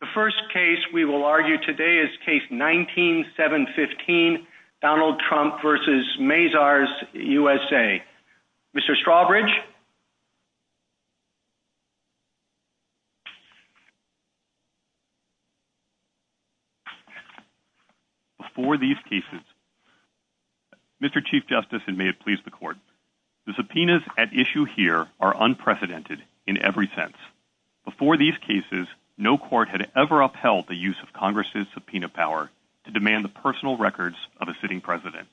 The first case we will argue today is case 19-7-15, Donald Trump v. Mazars USA. Mr. Strawbridge? Before these cases, Mr. Chief Justice, and may it please the Court, the subpoenas at issue here are unprecedented in every sense. Before these cases, no court had ever upheld the use of Congress's subpoena power to demand the personal records of a sitting president.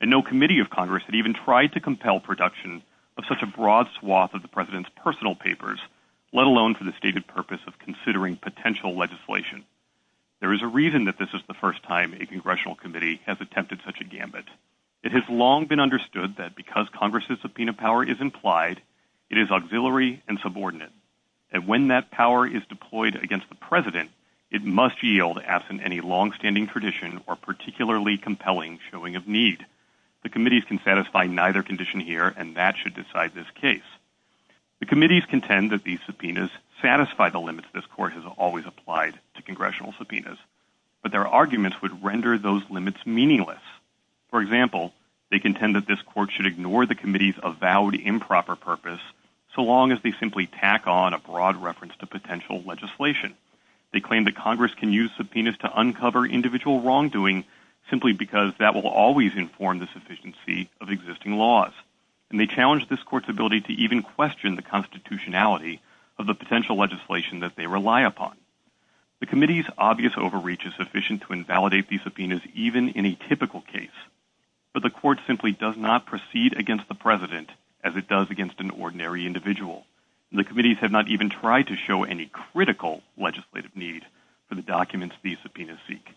And no committee of Congress had even tried to compel production of such a broad swath of the president's personal papers, let alone for the stated purpose of considering potential legislation. There is a reason that this is the first time a congressional committee has attempted such a gambit. It has long been understood that because Congress's subpoena power is implied, it is auxiliary and subordinate. And when that power is deployed against the president, it must yield absent any longstanding tradition or particularly compelling showing of need. The committees can satisfy neither condition here, and that should decide this case. The committees contend that these subpoenas satisfy the limits this Court has always applied to congressional subpoenas, but their arguments would render those limits meaningless. For example, they contend that this Court should ignore the committee's avowed improper purpose, so long as they simply tack on a broad reference to potential legislation. They claim that Congress can use subpoenas to uncover individual wrongdoing, simply because that will always inform the sufficiency of existing laws. And they challenge this Court's ability to even question the constitutionality of the potential legislation that they rely upon. The committee's obvious overreach is sufficient to invalidate these subpoenas, but the Court simply does not proceed against the president as it does against an ordinary individual. The committees have not even tried to show any critical legislative need for the documents these subpoenas seek.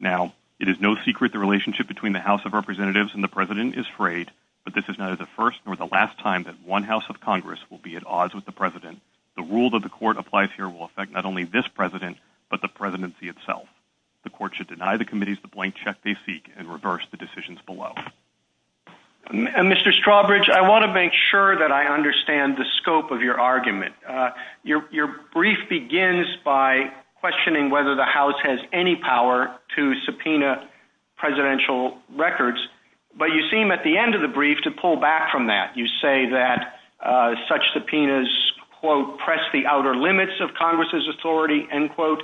Now, it is no secret the relationship between the House of Representatives and the president is frayed, but this is neither the first nor the last time that one House of Congress will be at odds with the president. The rule that the Court applies here will affect not only this president, but the presidency itself. The Court should deny the blank check they seek and reverse the decisions below. Mr. Strawbridge, I want to make sure that I understand the scope of your argument. Your brief begins by questioning whether the House has any power to subpoena presidential records, but you seem at the end of the brief to pull back from that. You say that such subpoenas, quote, press the outer limits of Congress's authority, end quote,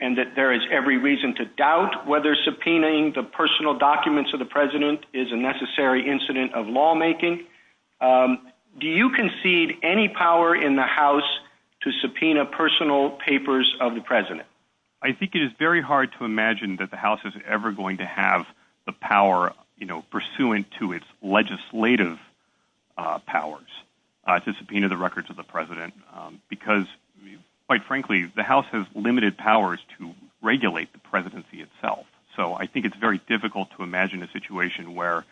and that there is every reason to doubt whether subpoenaing the personal documents of the president is a necessary incident of lawmaking. Do you concede any power in the House to subpoena personal papers of the president? I think it is very hard to imagine that the House is ever going to have the power, you know, pursuant to its legislative powers to subpoena the records of the president, because quite frankly, the House has limited powers to regulate the presidency itself. So I think it's very difficult to imagine a situation where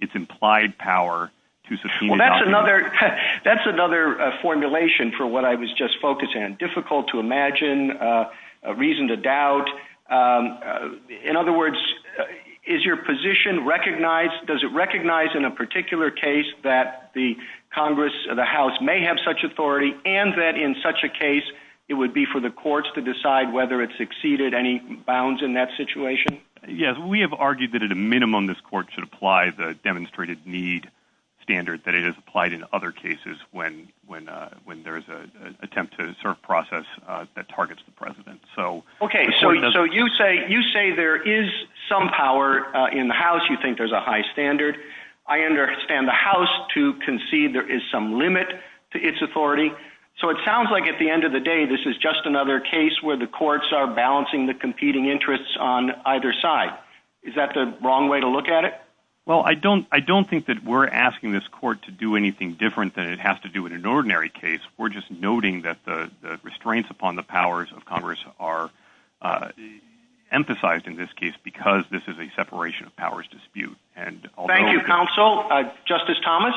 it's implied power to subpoena. Well, that's another formulation for what I was just focusing on. Difficult to imagine, reason to doubt. In other words, does your position recognize in a particular case that the Congress, the House may have such authority, and that in such a case, it would be for the courts to decide whether it's exceeded any bounds in that situation? Yes, we have argued that at a minimum, this court should apply the demonstrated need standard that it has applied in other cases when there is an attempt to assert process that targets the president. Okay, so you say there is some power in the House, you think there's a high standard. I understand the House to concede there is some limit to its authority. So it sounds like at the end of the day, this is just another case where the courts are balancing the competing interests on either side. Is that the wrong way to look at it? Well, I don't think that we're asking this court to do anything different than it has to do in an ordinary case. We're just noting that the restraints upon the powers of Congress are emphasized in this case, because this is a separation of powers dispute. Thank you, counsel. Justice Thomas?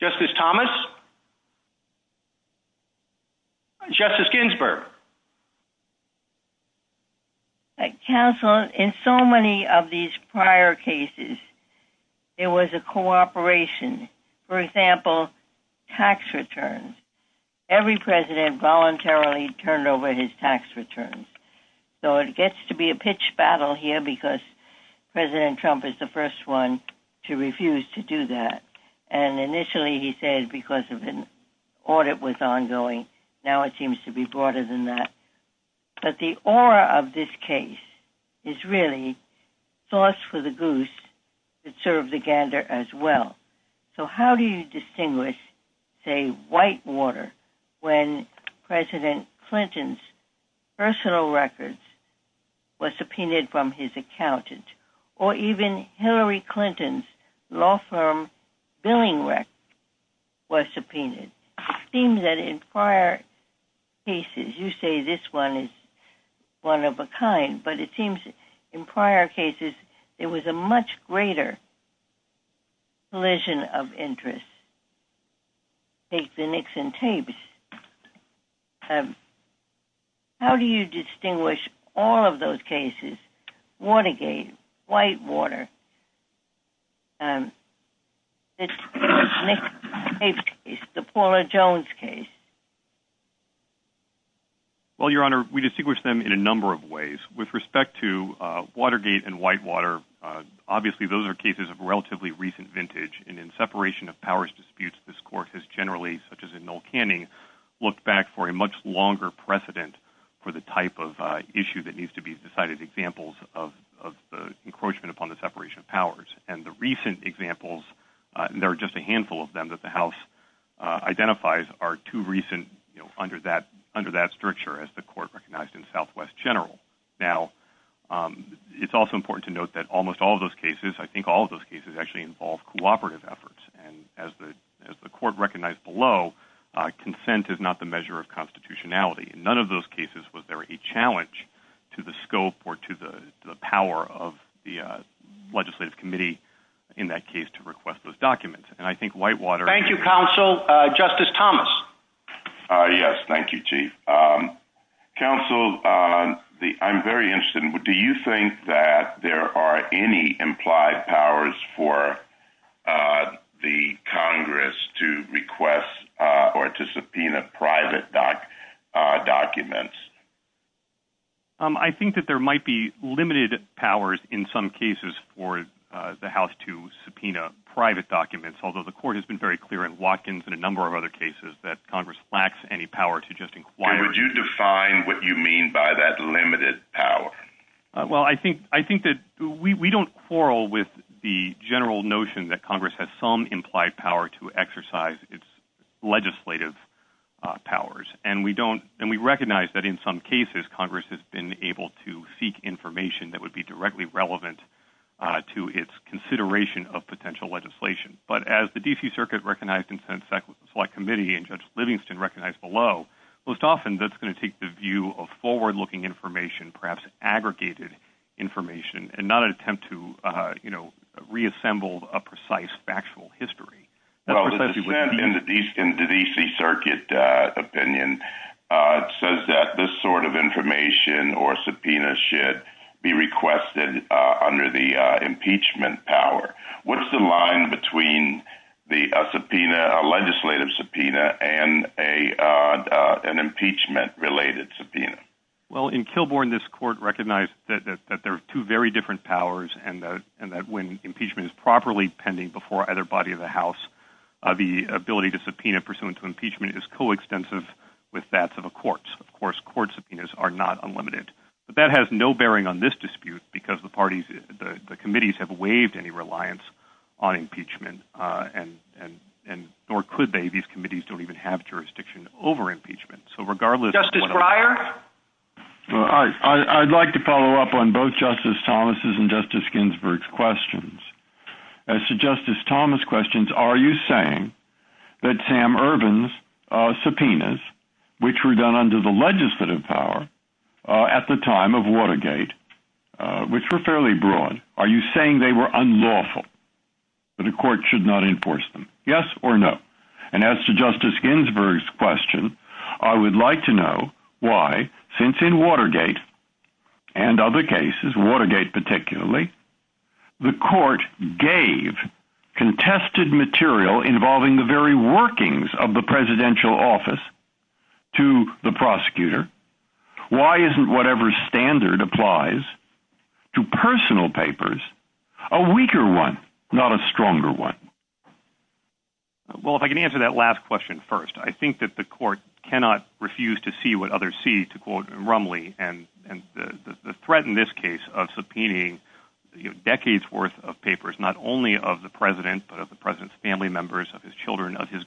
Justice Thomas? Justice Ginsburg? Counsel, in so many of these prior cases, it was a cooperation. For example, tax returns. Every president voluntarily turned over his tax returns. So it gets to be a pitch battle here, because President Trump is the first one to refuse to do that. And initially, he said, because of an audit was ongoing. Now it seems to be broader than that. But the aura of this case is really sauce for the goose that served the gander as well. So how do you distinguish, say, whitewater when President Clinton's personal records were subpoenaed from his accountant, or even Hillary Clinton's law firm billing record was subpoenaed? It seems that in prior cases, you say this one is one of a kind, but it seems in prior cases, it was a much greater collision of interests. Take the Nixon tapes. How do you distinguish all of those cases? Watergate, whitewater, the Paula Jones case? Well, Your Honor, we distinguish them in a number of ways. With respect to relatively recent vintage, and in separation of powers disputes, this court has generally, such as in Mill Canning, look back for a much longer precedent for the type of issue that needs to be decided examples of the encroachment upon the separation of powers. And the recent examples, there are just a handful of them that the House identifies are too recent, under that structure as the court recognized in Southwest General. Now, it's also important to all of those cases actually involve cooperative efforts. And as the court recognized below, consent is not the measure of constitutionality. In none of those cases was there a challenge to the scope or to the power of the legislative committee, in that case, to request those documents. And I think whitewater- Thank you, counsel. Justice Thomas. Yes, thank you, Chief. Counsel, I'm very interested in, do you think that there are any implied powers for the Congress to request or to subpoena private documents? I think that there might be limited powers in some cases for the House to subpoena private documents, although the court has been very clear in Watkins and a number of other cases that Congress lacks any power to just inquire- Could you define what you mean by that limited power? Well, I think that we don't quarrel with the general notion that Congress has some implied power to exercise its legislative powers. And we recognize that in some cases, Congress has been able to seek information that would be directly relevant to its consideration of potential legislation. But as the D.C. Circuit recognized in sense that the Select Committee and Judge Livingston recognized below, most often that's going to take the view of forward-looking information, perhaps aggregated information, and not an attempt to reassemble a precise factual history. In the D.C. Circuit opinion, it says that this sort of information or subpoena should be requested under the impeachment power. What's the line between the subpoena, legislative subpoena, and an impeachment-related subpoena? Well, in Kilbourne, this court recognized that there are two very different powers, and that when impeachment is properly pending before either body of the House, the ability to subpoena pursuant to impeachment is coextensive with that of the courts. Of course, court subpoenas are not unlimited. But that has no bearing on this dispute because the parties, the committees, have waived any reliance on impeachment, or could they? These committees don't even have jurisdiction over impeachment. So regardless... Justice Breyer? Well, I'd like to follow up on both Justice Thomas' and Justice Ginsburg's questions. As to Justice Thomas' questions, are you saying that Sam Ervin's subpoenas, which were done under the legislative power at the time of Watergate, which were fairly broad, are you saying they were unlawful, that the court should not enforce them? Yes or no? And as to Justice Ginsburg's question, I would like to know why, since in Watergate and other cases, Watergate particularly, the court gave contested material involving the very workings of the presidential office to the prosecutor, why isn't whatever standard applies to personal papers, a weaker one, not a stronger one? Well, if I can answer that last question first, I think that the court cannot refuse to see what others see, to quote Rumley, and the threat in this case of subpoenaing decades' worth of papers, not only of the president, but of the president's family members, of his children, of his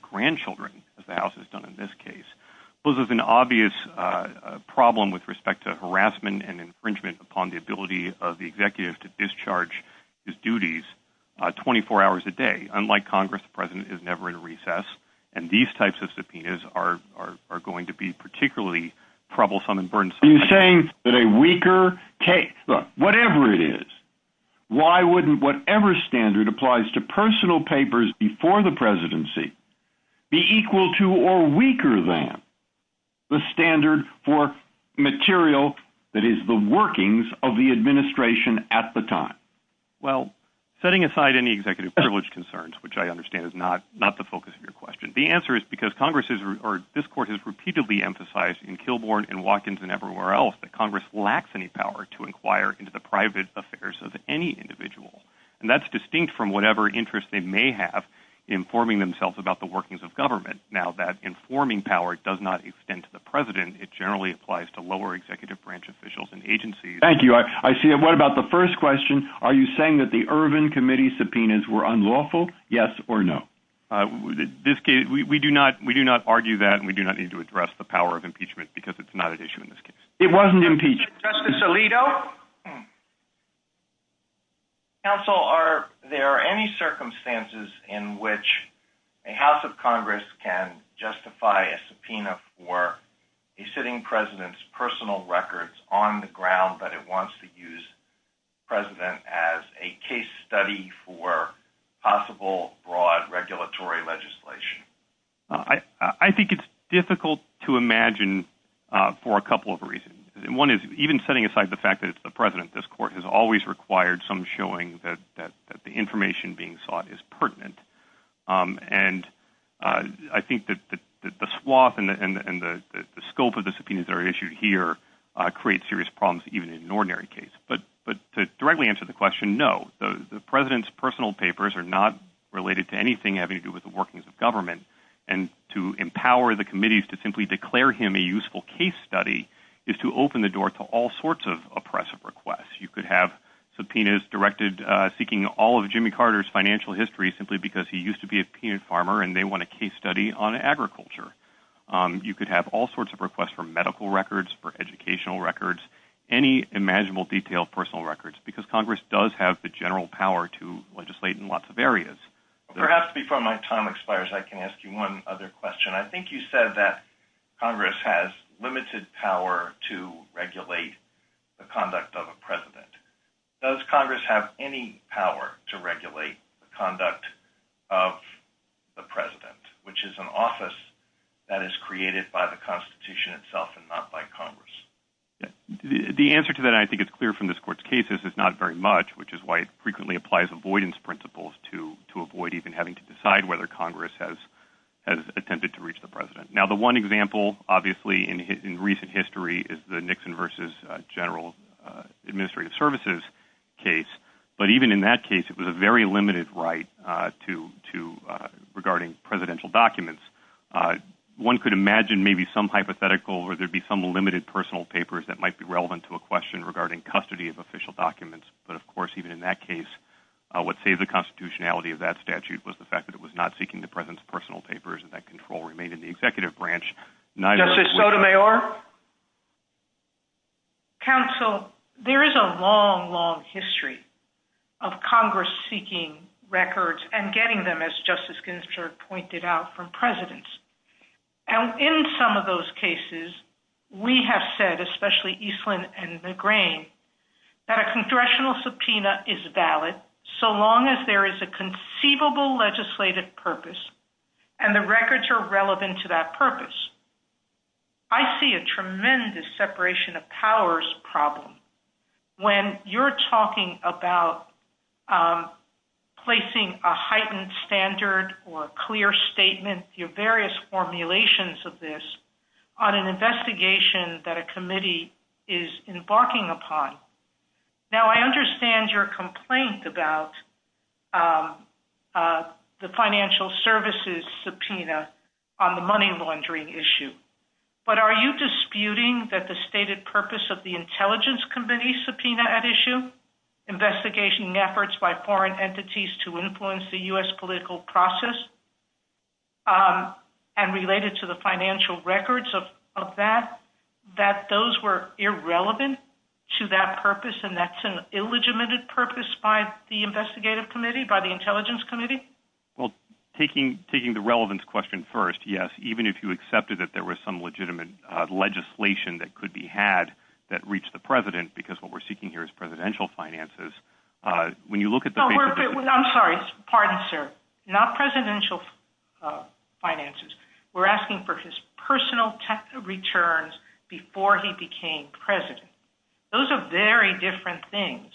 employees, poses an obvious problem with respect to harassment and infringement upon the ability of the executive to discharge his duties 24 hours a day. Unlike Congress, the president is never in recess, and these types of subpoenas are going to be particularly troublesome and burdensome. Are you saying that a weaker case, whatever it is, why wouldn't whatever standard applies to the standard for material that is the workings of the administration at the time? Well, setting aside any executive privilege concerns, which I understand is not the focus of your question, the answer is because Congress, or this court, has repeatedly emphasized in Kilbourn and Watkins and everywhere else that Congress lacks any power to inquire into the private affairs of any individual. And that's distinct from whatever interest they may have informing themselves about the workings of government. Now, that informing power does not extend to the president. It generally applies to lower executive branch officials and agencies. Thank you. I see. What about the first question? Are you saying that the Ervin Committee subpoenas were unlawful? Yes or no? We do not argue that, and we do not need to address the power of impeachment because it's not an issue in this case. It wasn't impeached. Justice Alito? Counsel, are there any circumstances in which a House of Congress can justify a subpoena for a sitting president's personal records on the ground that it wants to use the president as a case study for possible broad regulatory legislation? I think it's difficult to imagine for a couple of reasons. One is even setting aside the fact that the president, this court, has always required some showing that the information being sought is pertinent. And I think that the swath and the scope of the subpoenas that are issued here create serious problems even in an ordinary case. But to directly answer the question, no, the president's personal papers are not related to anything having to do with the and to empower the committees to simply declare him a useful case study is to open the door to all sorts of oppressive requests. You could have subpoenas directed seeking all of Jimmy Carter's financial history simply because he used to be a peanut farmer and they want a case study on agriculture. You could have all sorts of requests for medical records, for educational records, any imaginable detailed personal records because Congress does have the general power to ask you one other question. I think you said that Congress has limited power to regulate the conduct of a president. Does Congress have any power to regulate the conduct of the president, which is an office that is created by the constitution itself and not by Congress? The answer to that, I think it's clear from this court's case, is it's not very much, which is why it frequently applies avoidance principles to avoid even having to decide whether Congress has attempted to reach the president. Now, the one example, obviously, in recent history is the Nixon versus General Administrative Services case. But even in that case, it was a very limited right to regarding presidential documents. One could imagine maybe some hypothetical or there'd be some limited personal papers that might be relevant to a question regarding custody of official documents. But of course, even in that case, what saved the constitutionality of that statute was the fact that it was not seeking the president's personal papers and that control remained in the executive branch. Justice Sotomayor? Counsel, there is a long, long history of Congress seeking records and getting them, as Justice Ginsburg pointed out, from presidents. And in some of those cases, we have said, especially Eastland and McGrane, that a congressional subpoena is valid so long as there is a conceivable legislative purpose and the records are relevant to that purpose. I see a tremendous separation of powers problem when you're talking about placing a heightened standard or a clear statement, your various formulations of this, on an investigation that a committee is embarking upon. Now, I understand your complaint about the financial services subpoena on the money laundering issue. But are you disputing that the stated purpose of the intelligence committee subpoena at issue? Investigation efforts by foreign entities to influence the U.S. political process and related to the financial records of that, those were irrelevant to that purpose and that's an illegitimate purpose by the investigative committee, by the intelligence committee? Well, taking the relevance question first, yes, even if you accepted that there was some legitimate legislation that could be had that reached the president, because what we're seeking here is presidential finances, when you look at the... I'm sorry, pardon, sir. Not presidential finances. We're asking for his personal returns before he became president. Those are very different things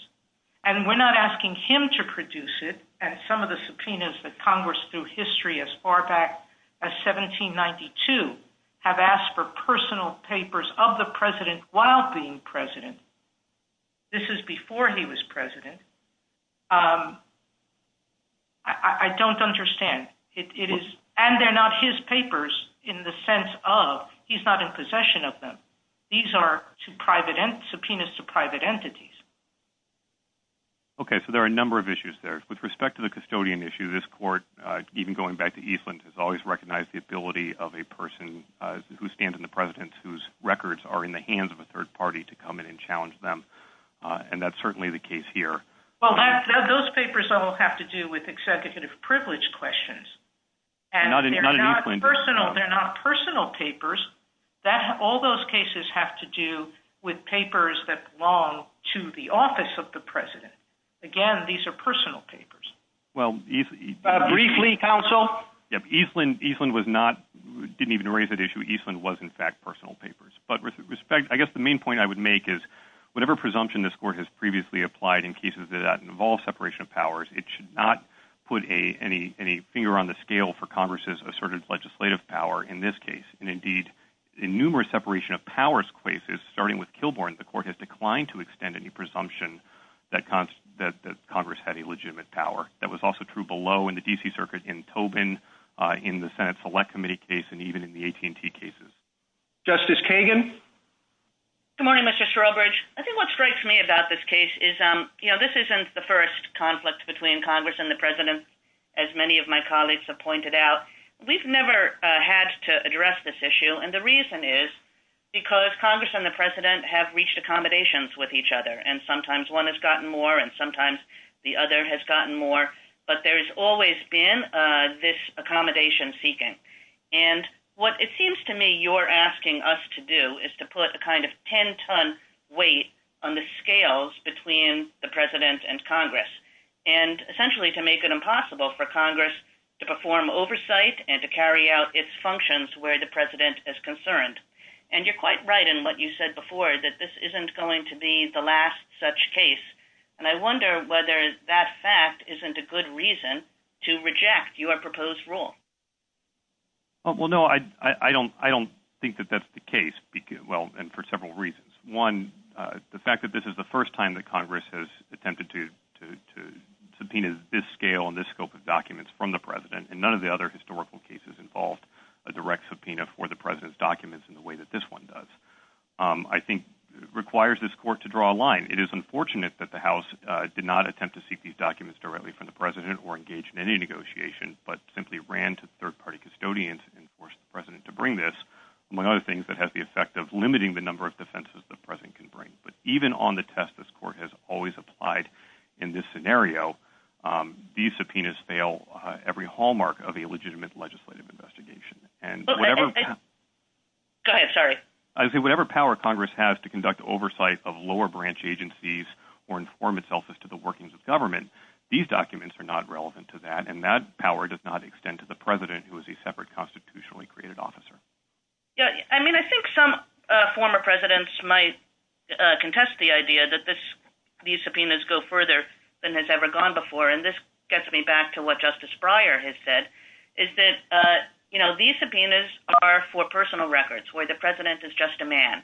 and we're not asking him to produce it and some of the subpoenas that Congress through history as far back as 1792 have asked for personal papers of the president while being president. This is before he was president. He's not in possession of them. These are subpoenas to private entities. Okay, so there are a number of issues there. With respect to the custodian issue, this court, even going back to Eastland, has always recognized the ability of a person who stands in the president's, whose records are in the hands of a third party to come in and challenge them and that's certainly the case here. Well, those papers all have to do with executive privilege questions and they're not personal papers. All those cases have to do with papers that belong to the office of the president. Again, these are personal papers. Briefly, counsel. Yeah, Eastland didn't even raise that issue. Eastland was in fact personal papers, but with respect, I guess the main point I would make is whatever presumption this court has previously applied in cases that involve separation of powers, it should not put any finger on the scale for Congress's asserted legislative power in this case. Indeed, in numerous separation of powers cases, starting with Kilbourn, the court has declined to extend any presumption that Congress had a legitimate power. That was also true below in the D.C. Circuit in Tobin, in the Senate Select Committee case, and even in the AT&T cases. Justice Kagan? Good morning, Mr. Shrobridge. I think what strikes me about this case is, you know, this isn't the first conflict between Congress and the president, as many of my colleagues have pointed out. We've never had to address this issue and the reason is because Congress and the president have reached accommodations with each other and sometimes one has gotten more and sometimes the other has gotten more, but there's always been this accommodation seeking. And what it seems to me you're asking us to do is to put a kind of 10-ton weight on the scales between the president and Congress, and essentially to make it impossible for Congress to perform oversight and to carry out its functions where the president is concerned. And you're quite right in what you said before, that this isn't going to be the last such case, and I wonder whether that fact isn't a good reason to reject your proposed rule? Well, no, I don't think that that's the case, and for several reasons. One, the fact that this is the first time that Congress has attempted to subpoena this scale and this scope of documents from the president, and none of the other historical cases involved a direct subpoena for the president's documents in the way that this one does, I think requires this court to draw a line. It is unfortunate that the House did not attempt to seek these documents directly from the president or engage in any negotiation, but simply ran to third-party custodians and forced the president to bring this, among other things, that has the effect of limiting the number of defenses the president can bring. But even on the test this court has always applied in this scenario, these subpoenas fail every hallmark of a legitimate legislative investigation. And whatever power Congress has to conduct oversight of lower branch agencies or inform itself as to the workings of government, these documents are not relevant to that, and that power does not extend to the president, who is a separate constitutionally created officer. Yeah, and then I think some former presidents might contest the idea that these subpoenas go further than has ever gone before, and this gets me back to what Justice Breyer has said, is that these subpoenas are for personal records, where the president is just a man.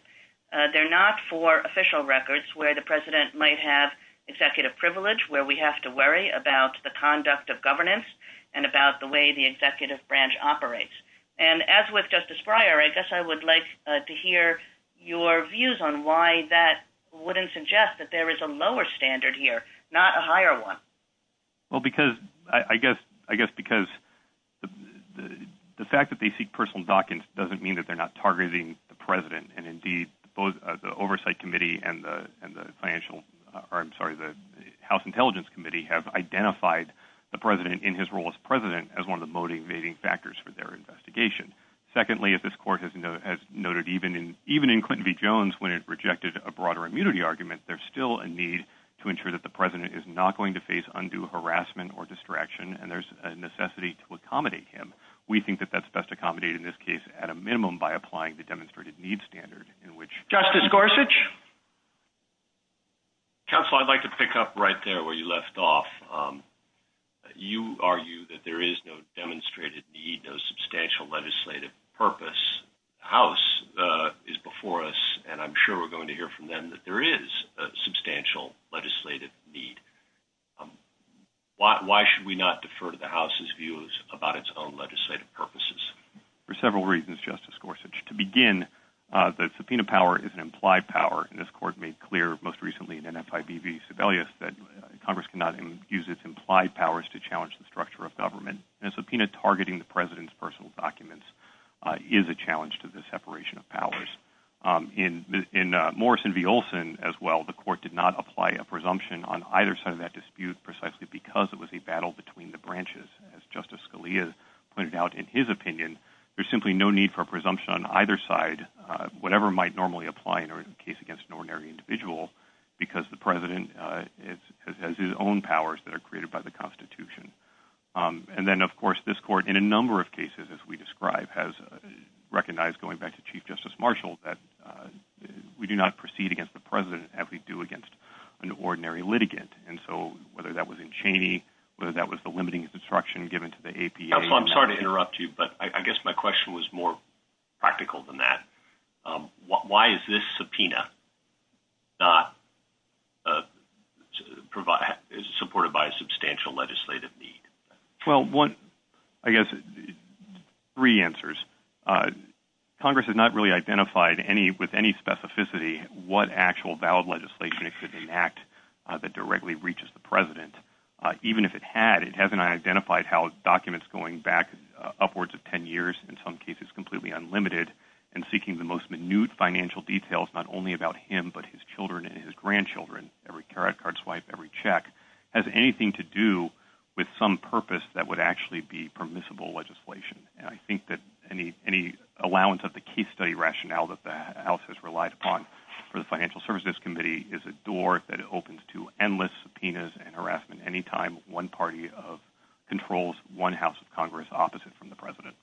They're not for official records, where the president might have executive privilege, where we have to worry about the conduct of governance and about the way the executive branch operates. And as with Justice Breyer, I guess I would like to hear your views on why that wouldn't suggest that there is a lower standard here, not a higher one. Well, I guess because the fact that they seek personal documents doesn't mean that they're targeting the president. And indeed, both the Oversight Committee and the House Intelligence Committee have identified the president in his role as president as one of the motivating factors for their investigation. Secondly, as this court has noted, even in Clinton v. Jones, when it rejected a broader immunity argument, there's still a need to ensure that the president is not going to face undue harassment or distraction, and there's a necessity to minimum by applying the demonstrated need standard in which- Justice Gorsuch? Counsel, I'd like to pick up right there where you left off. You argue that there is no demonstrated need, no substantial legislative purpose. The House is before us, and I'm sure we're going to hear from them that there is a substantial legislative need. Why should we not defer to the House's views about its own legislative purposes? For several reasons, Justice Gorsuch. To begin, the subpoena power is an implied power, and this court made clear most recently in NFIB v. Sebelius that Congress cannot even use its implied powers to challenge the structure of government. A subpoena targeting the president's personal documents is a challenge to the separation of powers. In Morrison v. Olson, as well, the court did not apply a presumption on either side of that dispute precisely because it pointed out, in his opinion, there's simply no need for a presumption on either side, whatever might normally apply in a case against an ordinary individual, because the president has his own powers that are created by the Constitution. And then, of course, this court, in a number of cases, as we describe, has recognized, going back to Chief Justice Marshall, that we do not proceed against the president as we do against an ordinary litigant. And so, whether that was in Cheney, whether that was the limiting instruction given to the APA- Counsel, I'm sorry to interrupt you, but I guess my question was more practical than that. Why is this subpoena not supported by a substantial legislative need? Well, I guess three answers. Congress has not really identified with any specificity what actual valid legislation it could enact that directly reaches the president. Even if it had, it hasn't identified how documents going back upwards of 10 years, in some cases, completely unlimited, and seeking the most minute financial details, not only about him, but his children and his grandchildren, every credit card swipe, every check, has anything to do with some purpose that would actually be permissible legislation. And I think that any allowance of the case study rationale that the House has relied upon for the Financial Services Committee is a door that opens to endless subpoenas and harassment any time one party controls one House of Congress opposite from the president.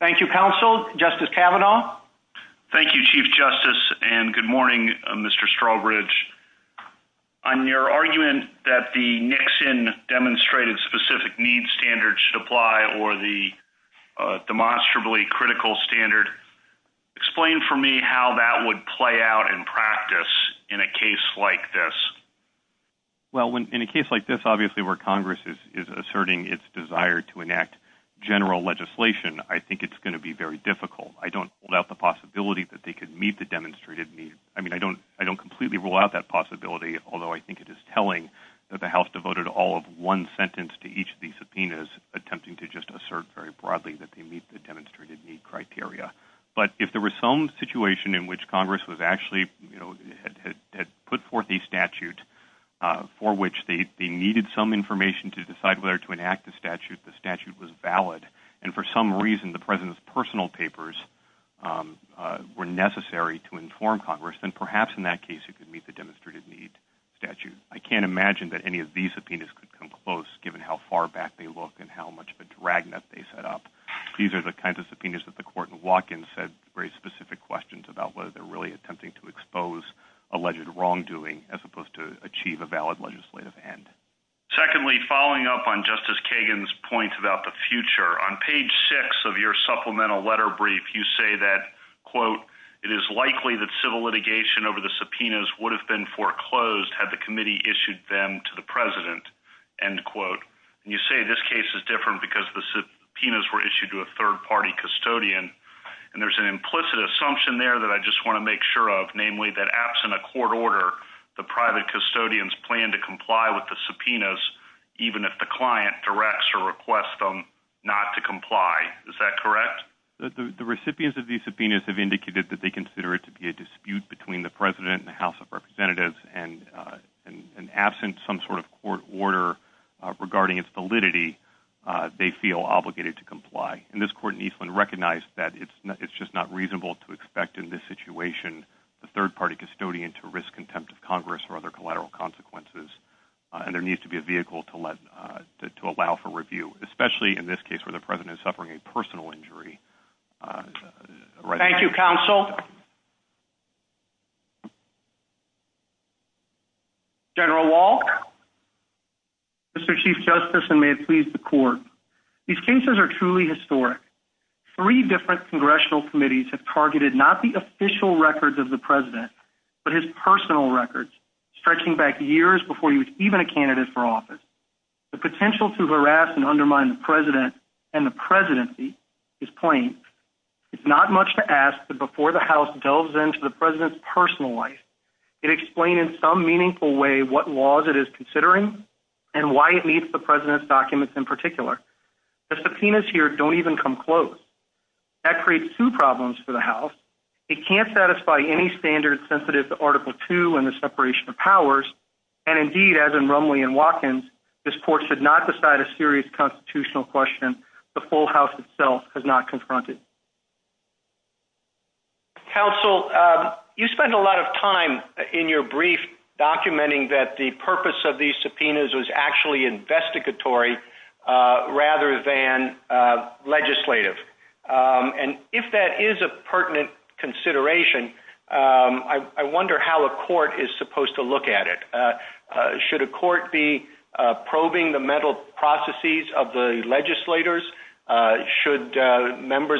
Thank you, Counsel. Justice Kavanaugh? Thank you, Chief Justice, and good morning, Mr. Strawbridge. On your argument that the Nixon demonstrated specific needs standards should apply or the demonstrably critical standard, explain for me how that would play out in practice in a case like this. Well, in a case like this, obviously, where Congress is asserting its desire to enact general legislation, I think it's going to be very difficult. I don't hold out the possibility that they could meet the demonstrated need. I mean, I don't completely rule out that possibility, although I think it is telling that the House devoted all of one sentence to each of these subpoenas, attempting to just assert very broadly that they meet the demonstrated need criteria. But if there were some situation in which Congress was actually, you know, had put forth a statute for which they needed some information to decide whether to enact the statute, the statute was valid. And for some reason, the president's personal papers were necessary to inform Congress. And perhaps in that case, it could meet the demonstrated need statute. I can't imagine that any of these subpoenas could come close, given how far back they look and how much of a dragnet they set up. These are the kinds of subpoenas that the court said raised specific questions about whether they're really attempting to expose alleged wrongdoing, as opposed to achieve a valid legislative end. Secondly, following up on Justice Kagan's point about the future, on page six of your supplemental letter brief, you say that, quote, it is likely that civil litigation over the subpoenas would have been foreclosed had the committee issued them to the president, end quote. And you say this case is different because the subpoenas were issued to a third-party custodian. And there's an implicit assumption there that I just want to make sure of, namely that absent a court order, the private custodians plan to comply with the subpoenas, even if the client directs or requests them not to comply. Is that correct? The recipients of these subpoenas have indicated that they consider it to be a dispute between the president and the House of Representatives and absent some sort of court order regarding its validity, they feel obligated to comply. And this court in Eastland recognized that it's just not reasonable to expect in this situation the third-party custodian to risk contempt of Congress or other collateral consequences. And there needs to be a vehicle to allow for review, especially in this case where the president is suffering a personal injury. Thank you, counsel. General Wolk? Mr. Chief Justice, and may it please the court, these cases are truly historic. Three different congressional committees have targeted not the official records of the president but his personal records, stretching back years before he was even a candidate for office. The potential to harass and undermine the president and the presidency is plain. It's not to ask that before the House delves into the president's personal life, it explain in some meaningful way what laws it is considering and why it meets the president's documents in particular. The subpoenas here don't even come close. That creates two problems for the House. It can't satisfy any standards sensitive to Article II and the separation of powers. And indeed, as in Rumley and Watkins, this court should not decide a serious constitutional question the full House itself has not confronted. Counsel, you spend a lot of time in your brief documenting that the purpose of these subpoenas was actually investigatory rather than legislative. And if that is a pertinent consideration, I wonder how a court is supposed to look at it. Should a court be members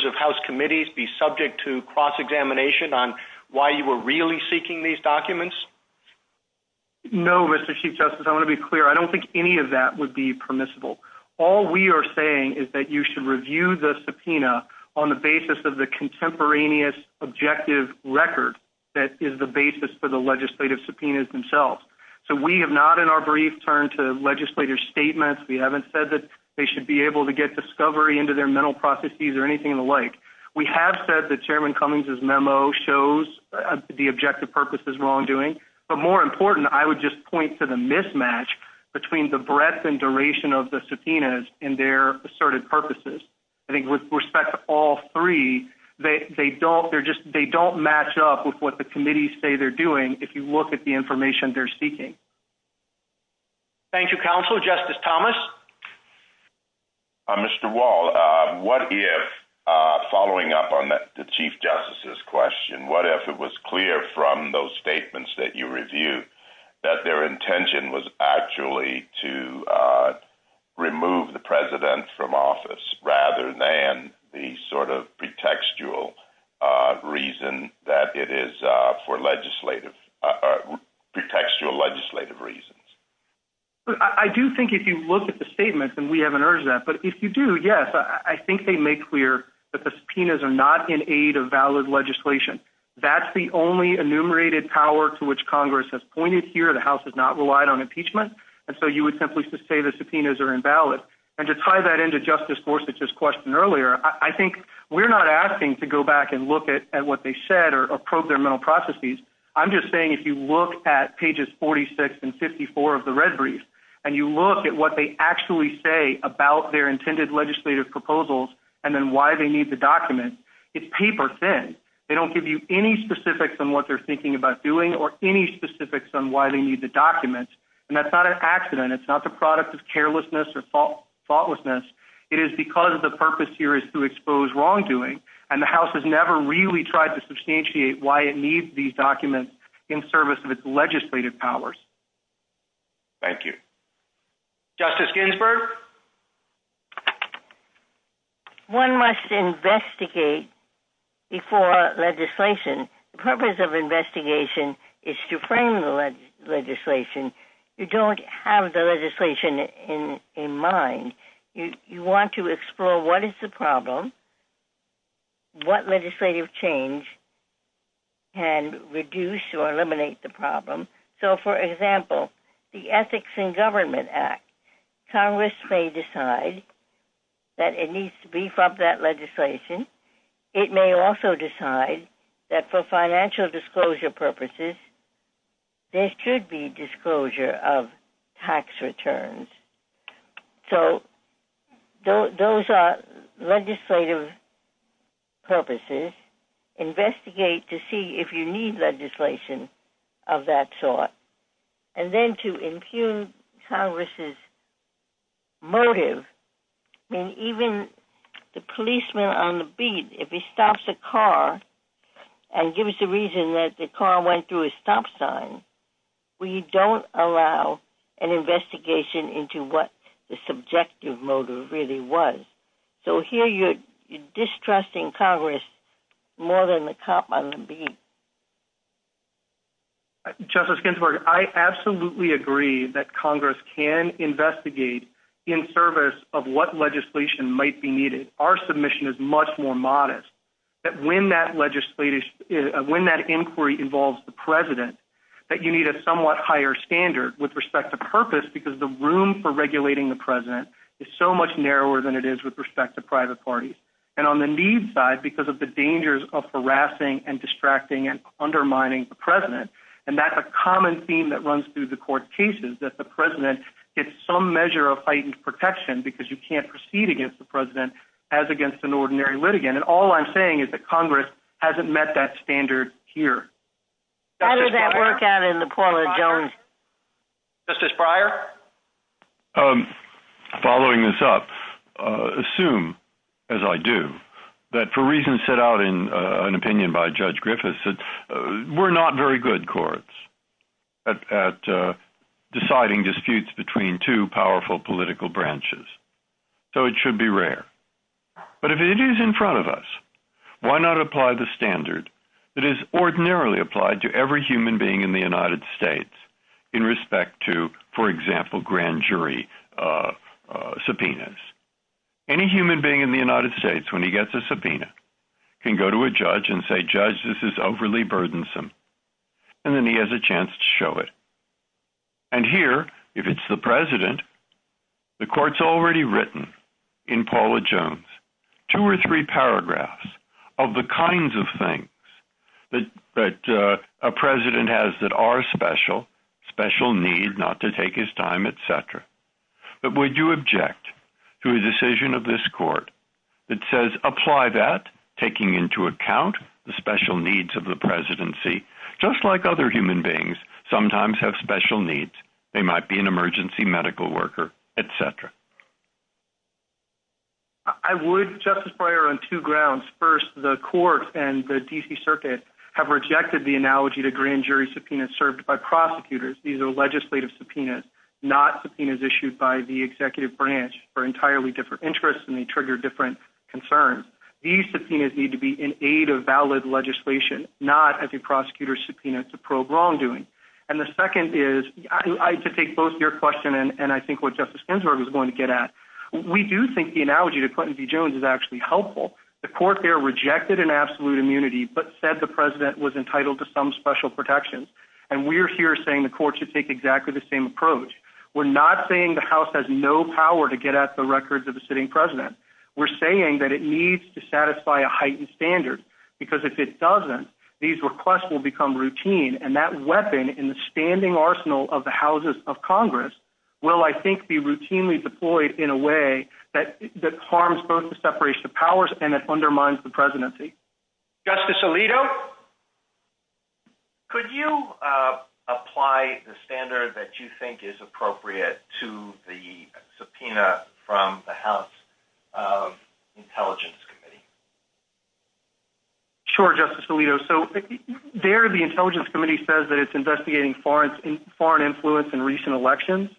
of House committees be subject to cross-examination on why you were really seeking these documents? No, Mr. Chief Justice. I want to be clear. I don't think any of that would be permissible. All we are saying is that you should review the subpoena on the basis of the contemporaneous objective record that is the basis for the legislative subpoenas themselves. So we have not in our brief turned to legislator's statements. We haven't said that they should be able to get discovery into their mental processes or anything like. We have said that Chairman Cummings' memo shows the objective purpose as wrongdoing. But more important, I would just point to the mismatch between the breadth and duration of the subpoenas and their asserted purposes. I think with respect to all three, they don't match up with what the committees say they're doing if you look at the information they're seeking. Thank you, Counsel. Justice Thomas? Mr. Wall, what if, following up on the Chief Justice's question, what if it was clear from those statements that you reviewed that their intention was actually to remove the President from office rather than the sort of pretextual reason that it is for legislative, pretextual legislative reasons? I do think if you look at the statements, and we haven't urged that, but if you do, yes, I think they make clear that the subpoenas are not in aid of valid legislation. That's the only enumerated power to which Congress has pointed here. The House has not relied on impeachment. And so you would simply say the subpoenas are invalid. And to tie that into Justice Gorsuch's question earlier, I think we're not asking to go I'm just saying if you look at pages 46 and 54 of the red brief, and you look at what they actually say about their intended legislative proposals and then why they need the documents, it's paper thin. They don't give you any specifics on what they're thinking about doing or any specifics on why they need the documents. And that's not an accident. It's not the product of carelessness or thoughtlessness. It is because the purpose here is to expose wrongdoing, and the House has never really tried to substantiate why it needs these documents in service of its legislative powers. Thank you. Justice Ginsburg. One must investigate before legislation. The purpose of investigation is to frame the legislation. You don't have the legislation in mind. You want to explore what is the problem. What legislative change can reduce or eliminate the problem. So, for example, the Ethics in Government Act. Congress may decide that it needs to brief up that legislation. It may also decide that for financial disclosure purposes, there should be disclosure of tax returns. So, those are legislative purposes. Investigate to see if you need legislation of that sort. And then to impugn Congress's motive, and even the policeman on the beat, if he stops a car and gives the reason that the car went through a stop sign, we don't allow an investigation into what the subjective motive really was. So, here you're distrusting Congress more than the cop on the beat. Justice Ginsburg, I absolutely agree that Congress can investigate in service of what legislation might be needed. Our submission is much more modest. When that inquiry involves the President, that you need a somewhat higher standard with respect to purpose, because the room for regulating the President is so much narrower than it is with respect to private parties. And on the need side, because of the dangers of harassing and distracting and undermining the President, and that's a common theme that runs through the court cases, that the President gets some measure of heightened protection because you can't proceed against the President as against an ordinary litigant. And all I'm saying is that Congress hasn't met that standard here. Justice Breyer? Following this up, assume, as I do, that for reasons set out in an opinion by Judge Griffiths, we're not very good courts at deciding disputes between two powerful political branches. So, it should be rare. But if it is in front of us, why not apply the standard that is ordinarily applied to every human being in the United States in respect to, for example, grand jury subpoenas? Any human being in the United States, when he gets a subpoena, can go to a judge and say, Judge, this is overly burdensome. And then he has a chance to show it. And here, if it's the written in Paula Jones, two or three paragraphs of the kinds of things that a President has that are special, special need not to take his time, et cetera. But would you object to a decision of this court that says, apply that, taking into account the special needs of the Presidency, just like other human beings sometimes have special needs. They might be an emergency medical worker, et cetera. I would, Justice Breyer, on two grounds. First, the court and the D.C. Circuit have rejected the analogy to grand jury subpoenas served by prosecutors. These are legislative subpoenas, not subpoenas issued by the executive branch for entirely different interests and they trigger different concerns. These subpoenas need to be in aid of valid legislation, not as a prosecutor's subpoena to probe wrongdoing. And the second is, to take both your question and I think what Justice Ginsburg was going to get at, we do think the analogy to Clinton v. Jones is actually helpful. The court there rejected an absolute immunity, but said the President was entitled to some special protections. And we're here saying the court should take exactly the same approach. We're not saying the House has no power to get at the records of a sitting President. We're saying that it needs to satisfy a heightened standard, because if it doesn't, these requests will become routine. And that weapon in the standing arsenal of the Houses of Congress will, I think, be routinely deployed in a way that harms both the separation of powers and it undermines the presidency. Justice Alito, could you apply the standard that you think is appropriate to the subpoena from the House Intelligence Committee? Sure, Justice Alito. So there the Intelligence Committee says that it's investigating foreign influence in recent elections,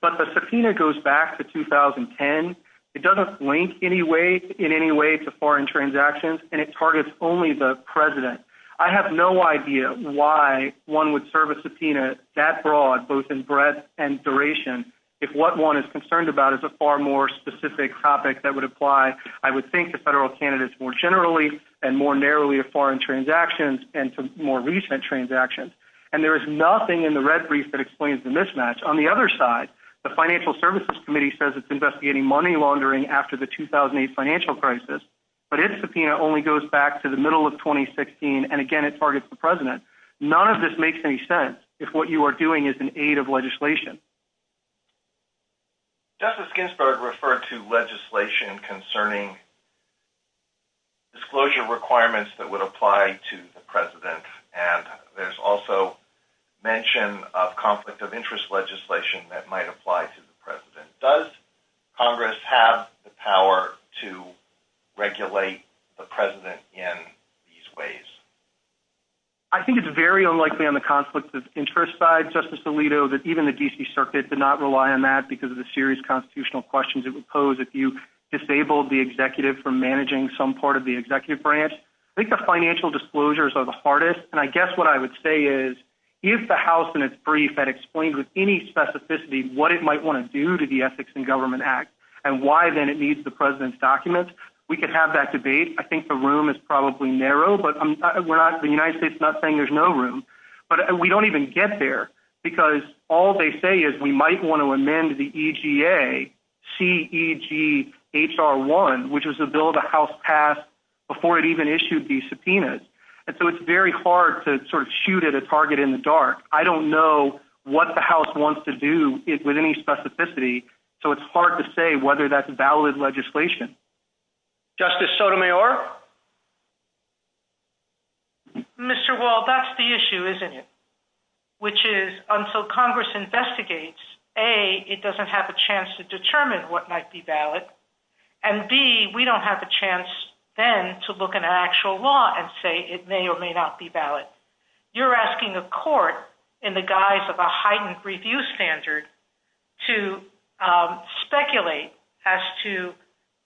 but the subpoena goes back to 2010. It doesn't link in any way to foreign transactions, and it targets only the President. I have no idea why one would serve a subpoena that broad, both in breadth and duration, if what one is concerned about is a far more specific topic that would apply, I would think, to federal candidates more generally and more narrowly foreign transactions and to more recent transactions. And there is nothing in the red brief that explains the mismatch. On the other side, the Financial Services Committee says it's investigating money laundering after the 2008 financial crisis, but its subpoena only goes back to the middle of 2016, and again, it targets the President. None of this makes any sense if what you are doing is an aid of legislation. Justice Ginsburg referred to legislation concerning disclosure requirements that would apply to the President, and there's also mention of conflict of interest legislation that might apply to the President. Does Congress have the power to regulate the President in these ways? I think it's very unlikely on the conflict of interest side, Justice Alito, that even the D.C. Circuit did not rely on that because of the constitutional questions it would pose if you disabled the executive for managing some part of the executive branch. I think the financial disclosures are the hardest, and I guess what I would say is, if the House in its brief had explained with any specificity what it might want to do to the Ethics in Government Act and why then it needs the President's documents, we could have that debate. I think the room is probably narrow, but the United States is not saying there's no room, but we don't even get there because all they say is we might want to CEGHR1, which is a bill the House passed before it even issued these subpoenas, and so it's very hard to sort of shoot at a target in the dark. I don't know what the House wants to do with any specificity, so it's hard to say whether that's valid legislation. Justice Sotomayor? Mr. Wall, that's the issue, isn't it? Which is, until Congress investigates, A, it doesn't have a chance to determine what might be valid, and B, we don't have a chance then to look at an actual law and say it may or may not be valid. You're asking a court, in the guise of a heightened review standard, to speculate as to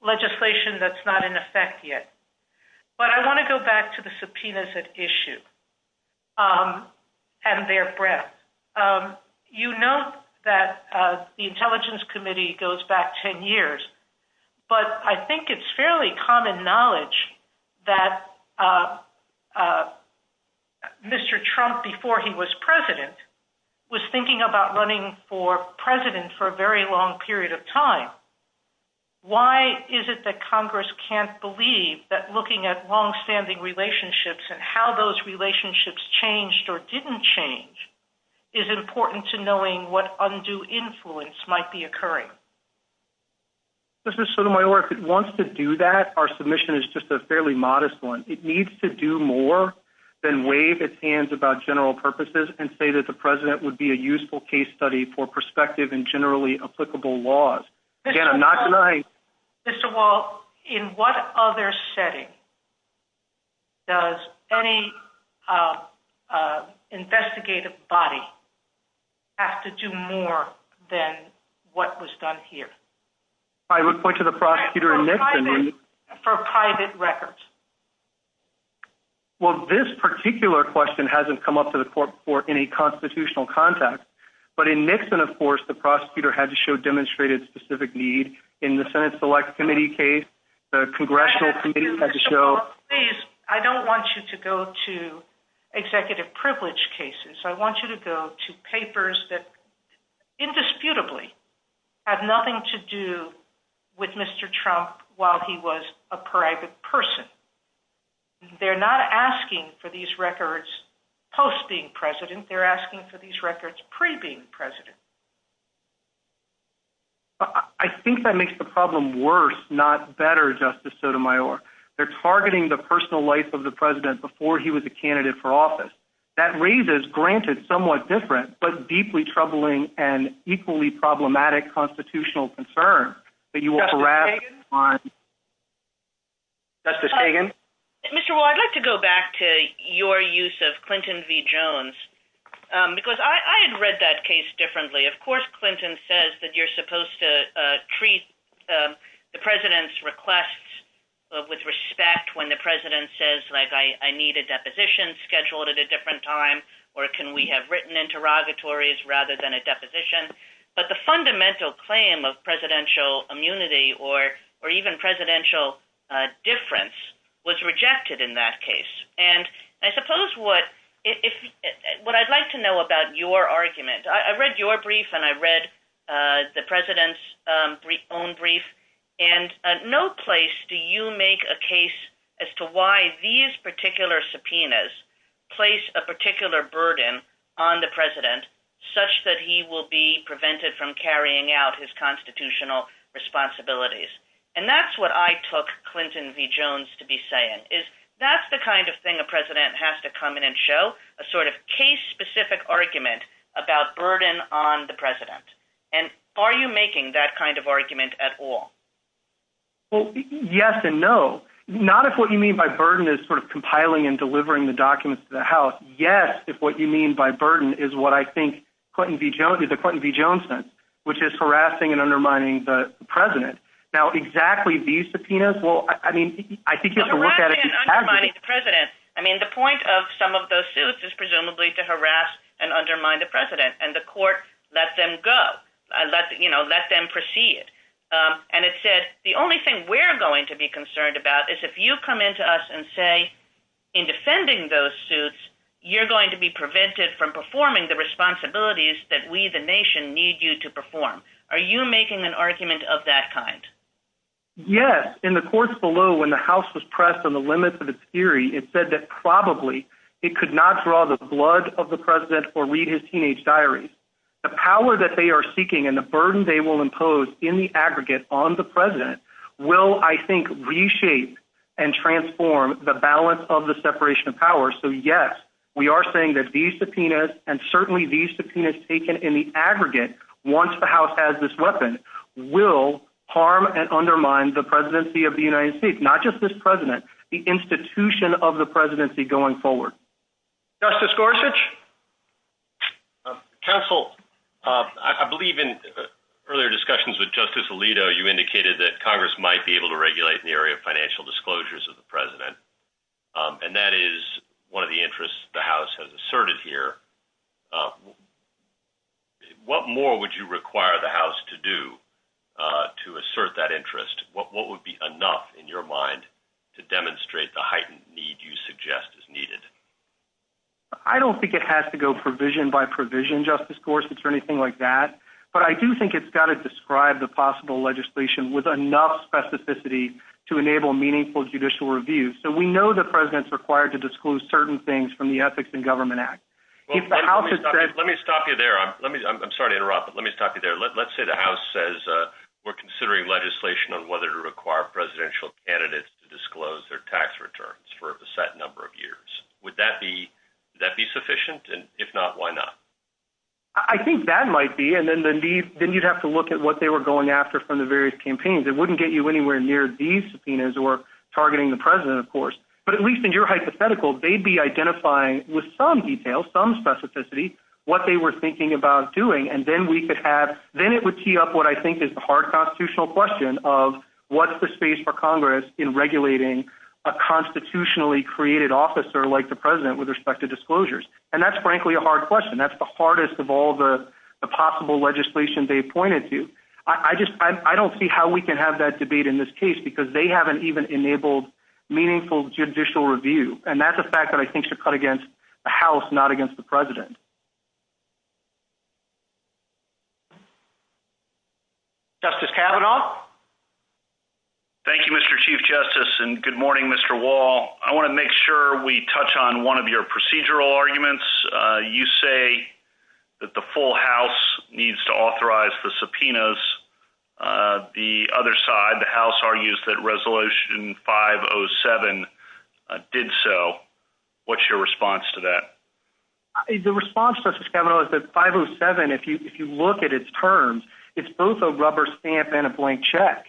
legislation that's not in effect yet. But I want to go back to the subpoenas at issue and their breadth. You know that the Intelligence Committee goes back 10 years, but I think it's fairly common knowledge that Mr. Trump, before he was president, was thinking about running for president for a very long period of time. Why is it that Congress can't believe that looking at longstanding relationships and how those relationships changed or didn't change is important to knowing what undue influence might be occurring? Justice Sotomayor, if it wants to do that, our submission is just a fairly modest one. It needs to do more than wave its hands about general purposes and say the president would be a useful case study for prospective and generally applicable laws. Mr. Wall, in what other setting does any investigative body have to do more than what was done here? I would point to the prosecutor in Nixon. For private records. Well, this particular question hasn't come up to the court before in a constitutional context, but in Nixon, of course, the prosecutor had to show demonstrated specific need. In the Senate Select Committee case, the Congressional Committee had to show... Mr. Wall, please, I don't want you to go to executive privilege cases. I want you to go to papers that indisputably have nothing to do with Mr. Trump while he was a proactive person. They're not asking for these records post being president. They're asking for these records pre being president. I think that makes the problem worse, not better, Justice Sotomayor. They're targeting the personal life of the president before he was a candidate for office. That raises, granted, somewhat different but deeply troubling and equally problematic constitutional concern that you will harass on... Justice Hagan? Mr. Wall, I'd like to go back to your use of Clinton v. Jones because I had read that case differently. Of course, Clinton says that you're supposed to treat the president's requests with respect when the president says, like, I need a deposition scheduled at a different time, or can we have written interrogatories rather than a deposition? But the fundamental claim of presidential immunity or even presidential difference was rejected in that case. What I'd like to know about your argument, I read your brief and I read the president's own brief, and at no place do you make a case as to why these particular subpoenas place a particular burden on the president such that he will be prevented from carrying out his constitutional responsibilities. And that's what I took Clinton v. Jones to be saying, is that's the kind of thing a president has to come in and show, a sort of case-specific argument about burden on the president. And are you making that kind of argument at all? Well, yes and no. Not if what you mean by burden is sort of compiling and delivering the documents to the House. Yes, if what you mean by burden is what I think Clinton v. Jones did, the Clinton v. Jones thing, which is harassing and undermining the president. Now, exactly these subpoenas, well, I mean, I think you can look at it- Harassing and undermining the president, I mean, the point of some of those suits is presumably to harass and undermine the president and the court let them go and let them proceed. And it said, the only thing we're going to be concerned about is if you come into us and say, in defending those suits, you're going to be prevented from performing the responsibilities that we, the nation, need you to perform. Are you making an argument of that kind? Yes. In the courts below, when the House was pressed on the limits of its theory, it said that probably it could not draw the blood of the president or read his teenage diaries. The power that they are seeking and the burden they will impose in the aggregate on the president will, I think, reshape and transform the balance of the separation of power. So yes, we are saying that these subpoenas and certainly these subpoenas taken in the aggregate, once the House has this weapon, will harm and undermine the presidency of the United States. Not just this president, the institution of the presidency going forward. Justice Gorsuch? Counsel, I believe in earlier discussions with Justice Alito, you indicated that Congress might be able to regulate in the area of financial disclosures of the president. And that is one of the interests the House has asserted here. What more would you require the House to do to assert that interest? What would be enough in your mind to demonstrate the heightened need you suggest is needed? I don't think it has to go provision by provision, Justice Gorsuch, or anything like that. But I do think it's got to describe the possible legislation with enough specificity to enable meaningful judicial review. So we know the president's required to disclose certain things from the Ethics in Government Act. Let me stop you there. I'm sorry to interrupt, but let me stop you there. Let's say the House says we're considering legislation on whether to require presidential candidates to disclose their tax returns for a set number of years. Would that be sufficient? And if not, why not? I think that might be. And then you'd have to look at what they were going after from the various campaigns. It wouldn't get you anywhere near these subpoenas or targeting the president, of course. But at least in your hypothetical, they'd be identifying with some detail, some specificity, what they were thinking about doing. Then it would tee up what I think is the hard constitutional question of what's the space for Congress in regulating a constitutionally created officer like the president with respect to disclosures? And that's frankly a hard question. That's the hardest of all the possible legislation they pointed to. I don't see how we can have that debate in this case because they haven't even enabled meaningful judicial review. And that's a fact that I think should cut against the House, not against the president. Justice Kavanaugh? Thank you, Mr. Chief Justice. And good morning, Mr. Wall. I want to make sure we touch on one of your procedural arguments. You say that the full House needs to authorize the subpoenas. The other side, the House, argues that Resolution 507 did so. What's your response to that? The response, Justice Kavanaugh, is that 507, if you look at its terms, it's both a rubber stamp and a blank check.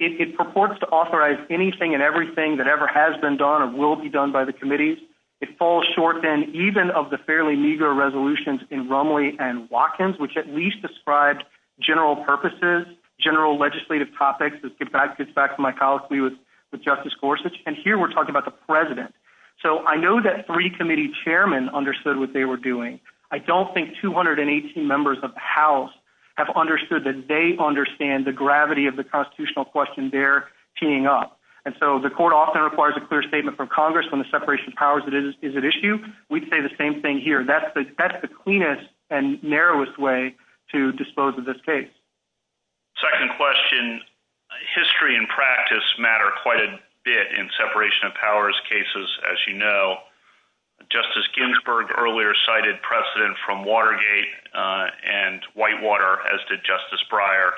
It purports to authorize anything and everything that ever has been done or will be done by the committees. It falls short then even of the fairly meager resolutions in Rumley and Watkins, which at least describe general purposes, general legislative topics. This gets back to my colleague with Justice Gorsuch. And here we're talking about the president. So I know that three committee chairmen understood what they were doing. I don't think 218 members of the House have understood that they understand the gravity of the constitutional question they're teeing up. And so the court often requires a clear statement from Congress when the separation of powers is at issue. We'd say the same thing here. That's the cleanest and narrowest way to dispose of this case. Second question, history and practice matter quite a bit in separation of powers cases, as you know. Justice Ginsburg earlier cited precedent from Watergate and Whitewater, as did Justice Breyer.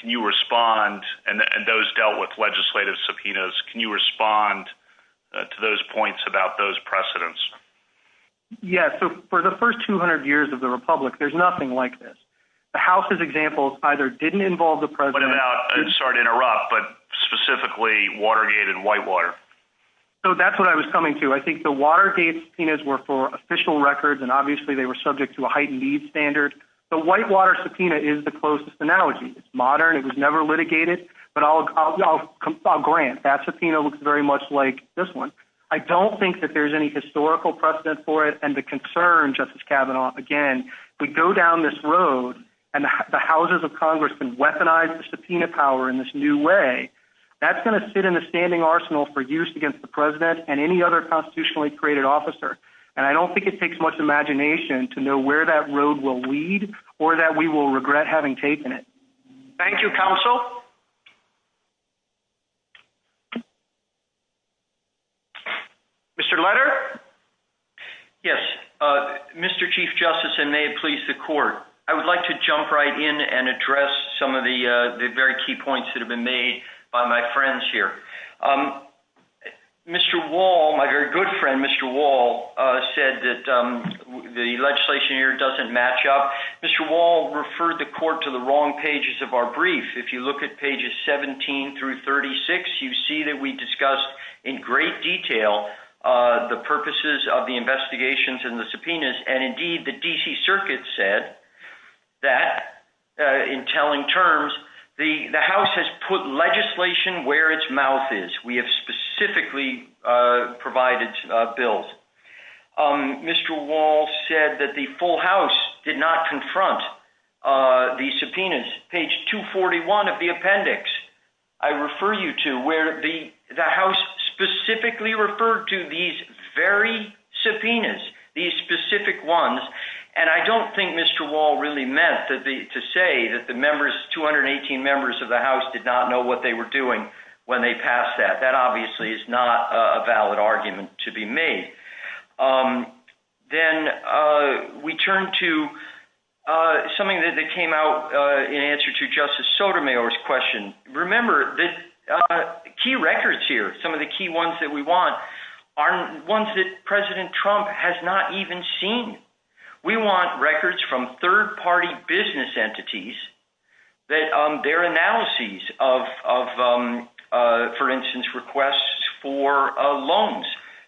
Can you respond? And those dealt with legislative subpoenas. Can you respond to those points about those precedents? Yeah. So for the first 200 years of the Republic, there's nothing like this. The House's example either didn't involve the president. But about, sorry to interrupt, but specifically Watergate and Whitewater. So that's what I was coming to. I think the Watergate subpoenas were for official records, and obviously they were subject to a heightened needs standard. The Whitewater subpoena is the closest analogy. It's modern. It was never litigated. But I'll grant that subpoena looks very much like this one. I don't think that there's any historical precedent for it. And the concern, Justice Kavanaugh, again, we go down this road and the houses of Congress can weaponize the subpoena power in this new way. That's going to sit in the standing arsenal for years against the president and any other constitutionally created officer. And I don't think it takes much imagination to know where that road will lead or that we will regret having taken Thank you, Counsel. Mr. Letter? Yes. Mr. Chief Justice, and may it please the court. I would like to jump right in and address some of the very key points that have been made by my friends here. Mr. Wall, my very good friend, Mr. Wall, said that the legislation here doesn't match up. Mr. Wall referred the court to the pages of our brief. If you look at pages 17 through 36, you see that we discussed in great detail the purposes of the investigations and the subpoenas. And indeed, the D.C. Circuit said that in telling terms, the House has put legislation where its mouth is. We have specifically provided bills. Mr. Wall said that the full House did not confront the subpoenas. Page 241 of the appendix, I refer you to where the House specifically referred to these very subpoenas, these specific ones. And I don't think Mr. Wall really meant to say that the members, 218 members of the House did not know what they were doing when they passed that. That obviously is not a valid argument to be made. Then we turn to something that came out in answer to Justice Sotomayor's question. Remember, the key records here, some of the key ones that we want are ones that President Trump has not even seen. We want records from for loans.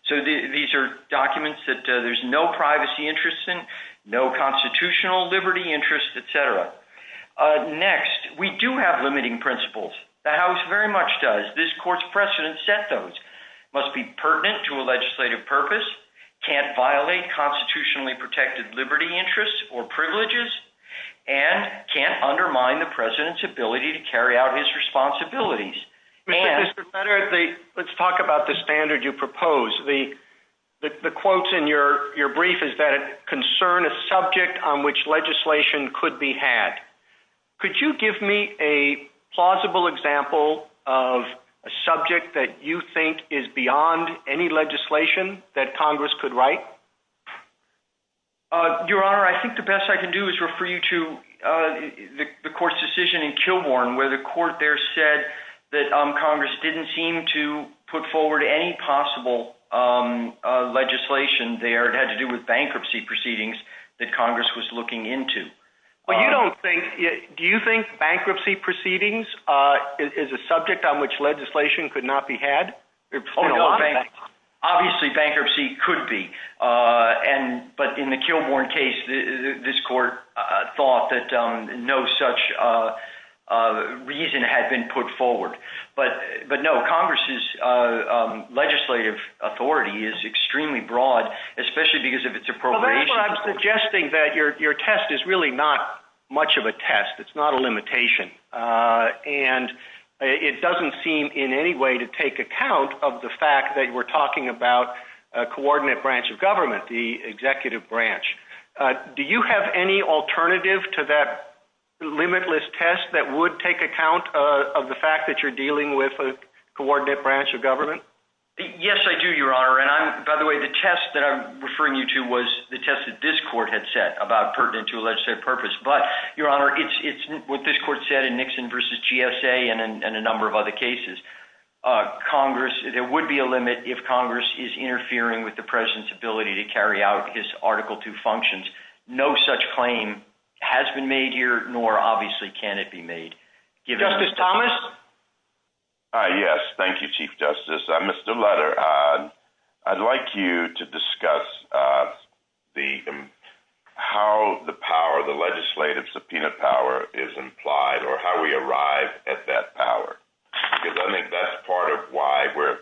So these are documents that there's no privacy interest in, no constitutional liberty interest, et cetera. Next, we do have limiting principles. The House very much does. This Court's precedent set those. Must be pertinent to a legislative purpose, can't violate constitutionally protected liberty interests or privileges, and can't undermine the President's ability to carry out his responsibilities. Mr. Senator, let's talk about the standard you propose. The quotes in your brief is that concern a subject on which legislation could be had. Could you give me a plausible example of a subject that you think is beyond any legislation that Congress could write? Your Honor, I think the best I can do is refer you to the Court's decision in Kilbourn where the Court there said that Congress didn't seem to put forward any possible legislation there. It had to do with bankruptcy proceedings that Congress was looking into. Do you think bankruptcy proceedings is a subject on which legislation could not be had? Obviously, bankruptcy could be. But in the Kilbourn case, this Court thought that no such reason had been put forward. But no, Congress's legislative authority is extremely broad, especially because of its appropriation. I'm suggesting that your test is really not much of a test. It's not a limitation. It doesn't seem in any way to take account of the fact that we're talking about a coordinate branch of government, the executive branch. Do you have any alternative to that limitless test that would take account of the fact that you're dealing with a coordinate branch of government? Yes, I do, Your Honor. By the way, the test that I'm referring you to was the test that this Court had set about pertinent to a legislative purpose. But, Your Honor, it's what this Court said in Nixon v. GSA and a number of other cases. There would be a limit if Congress is interfering with the President's ability to carry out his claim. It has been made here, nor obviously can it be made. Justice Thomas? Yes, thank you, Chief Justice. Mr. Lutter, I'd like you to discuss how the power of the legislative subpoena power is implied or how we arrive at that power. Because I think that's part of why we're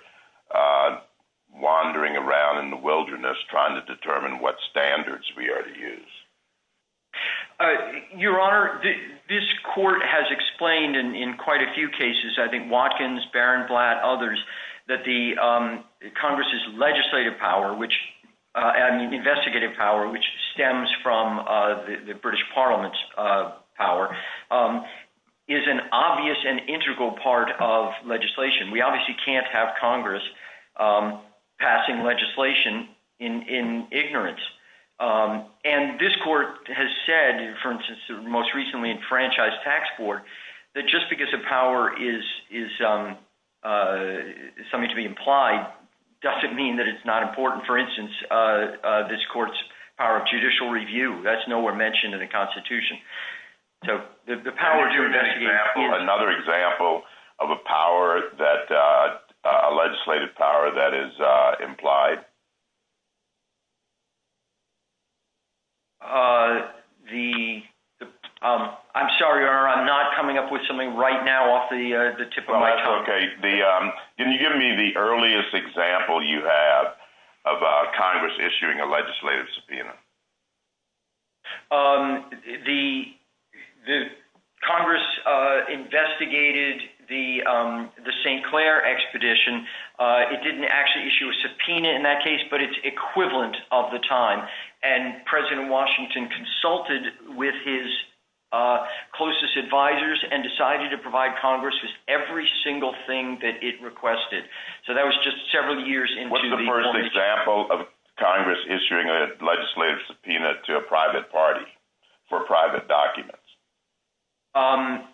wandering around in the wilderness trying to determine what standards we are to use. Your Honor, this Court has explained in quite a few cases—I think Watkins, Barron, Blatt, others—that the Congress's legislative power and investigative power, which stems from the British Parliament's power, is an obvious and integral part of legislation. We obviously can't have Congress passing legislation in ignorance. And this Court has said, for instance, most recently in Franchise Tax Court, that just because a power is something to be implied doesn't mean that it's not important. For instance, this Court's power of judicial review, that's nowhere mentioned in the Constitution. So, the power to investigate— Another example of a legislative power that is implied. The—I'm sorry, Your Honor, I'm not coming up with something right now off the tip of my tongue. Oh, that's okay. Can you give me the earliest example you have about Congress issuing a legislative subpoena? The Congress investigated the St. Clair Expedition. It didn't actually issue a subpoena in that case, but it's equivalent of the time. And President Washington consulted with his closest advisors and decided to provide Congress with every single thing that it requested. So, that was just several years into the— What's the first example of Congress issuing a legislative subpoena to a private party for private documents? I'm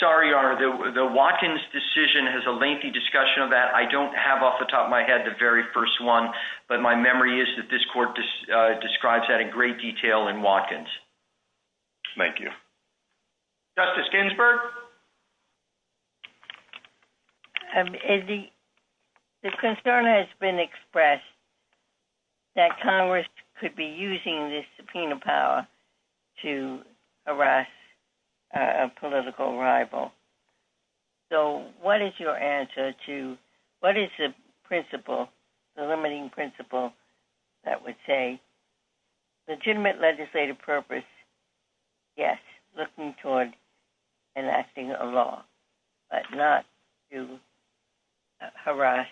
sorry, Your Honor, the Watkins decision has a lengthy discussion of that. I don't have off the top of my head the very first one, but my memory is that this Court describes that in great detail in Watkins. Thank you. Justice Ginsburg? The concern has been expressed that Congress could be using this subpoena power to harass a political rival. So, what is your answer to— What is the principle, the limiting principle that would say, legitimate legislative purpose, yes, looking toward enacting a law, but not to harass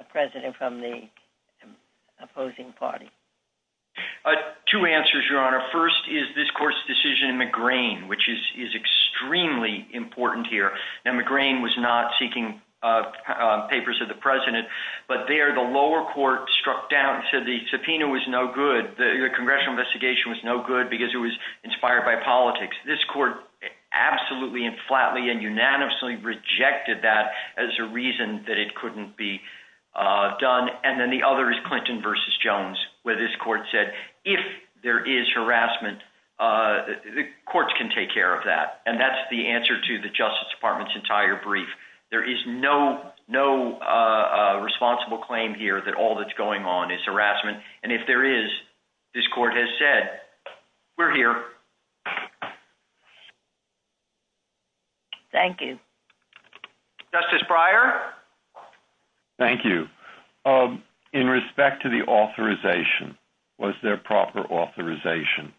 a president from the opposing party? Two answers, Your Honor. First is this Court's decision in McGrane, which is extremely important here. Now, McGrane was not seeking papers of the president, but there the lower court struck down and said the subpoena was no good. The congressional investigation was no good because it was inspired by politics. This Court absolutely and flatly and unanimously rejected that as a reason that it said, if there is harassment, the courts can take care of that. And that's the answer to the Justice Department's entire brief. There is no responsible claim here that all that's going on is harassment. And if there is, this Court has said, we're here. Thank you. Justice Breyer? Thank you. In respect to the authorization, was there proper authorization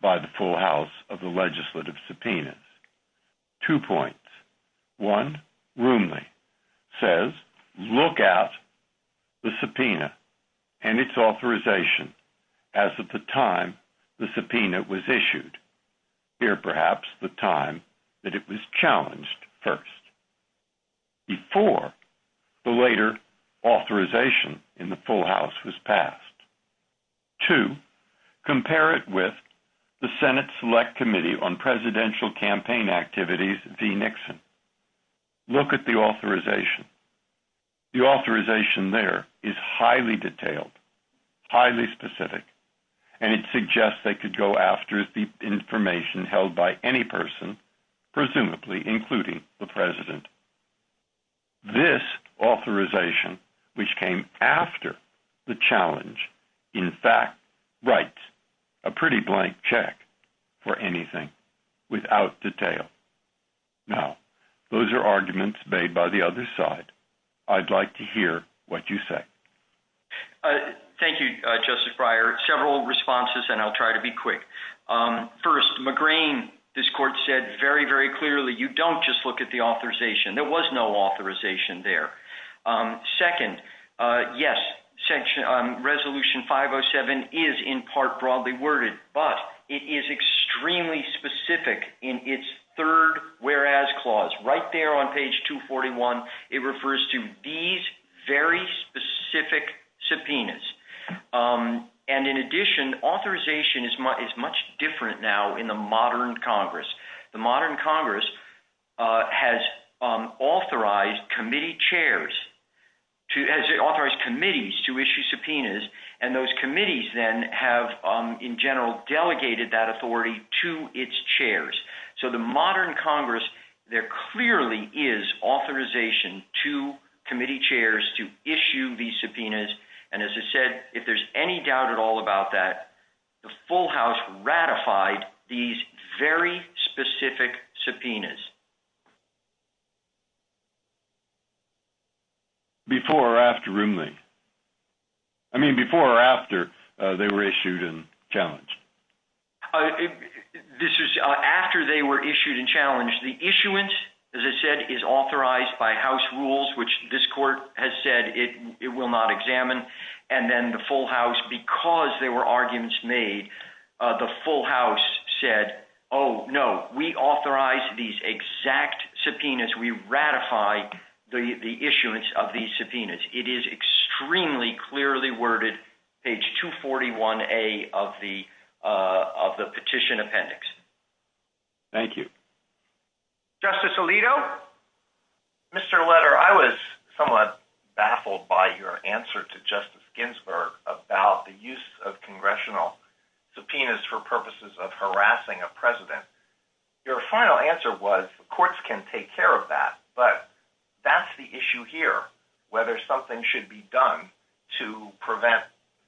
by the full house of the legislative subpoenas? Two points. One, Rooney says, look at the subpoena and its authorization as at the time the subpoena was issued. Here, perhaps, the time that it was the later authorization in the full house was passed. Two, compare it with the Senate Select Committee on Presidential Campaign Activities v. Nixon. Look at the authorization. The authorization there is highly detailed, highly specific, and it suggests they could go after the information held by any person, presumably including the President. This authorization, which came after the challenge, in fact, writes a pretty blank check for anything without detail. Now, those are arguments made by the other side. I'd like to hear what you say. Thank you, Justice Breyer. Several responses, and I'll try to be quick. First, McGrain, this Court said very, very clearly, you don't just look at the authorization. There was no authorization there. Second, yes, Resolution 507 is in part broadly worded, but it is extremely specific in its third whereas clause. Right there on page 241, it refers to these very specific subpoenas. In addition, authorization is much different now in the modern Congress. The modern Congress has authorized committee chairs, has authorized committees to issue subpoenas, and those committees then have, in general, delegated that authority to its chairs. So the modern Congress, there clearly is authorization to committee chairs to issue these subpoenas, and as I said, if there's any doubt at all about that, the full House ratified these very specific subpoenas. Before or after Roomley? I mean, before or after they were issued and challenged? This is after they were issued and challenged. The issuance, as I said, is authorized by House rules, which this Court has said it will not examine, and then the full House, because there subpoenas, we ratify the issuance of these subpoenas. It is extremely clearly worded, page 241A of the Petition Appendix. Thank you. Justice Alito? Mr. Letter, I was somewhat baffled by your answer to Justice Ginsburg about the use of congressional subpoenas for purposes of harassing a president. Your final answer was courts can take care of that, but that's the issue here, whether something should be done to prevent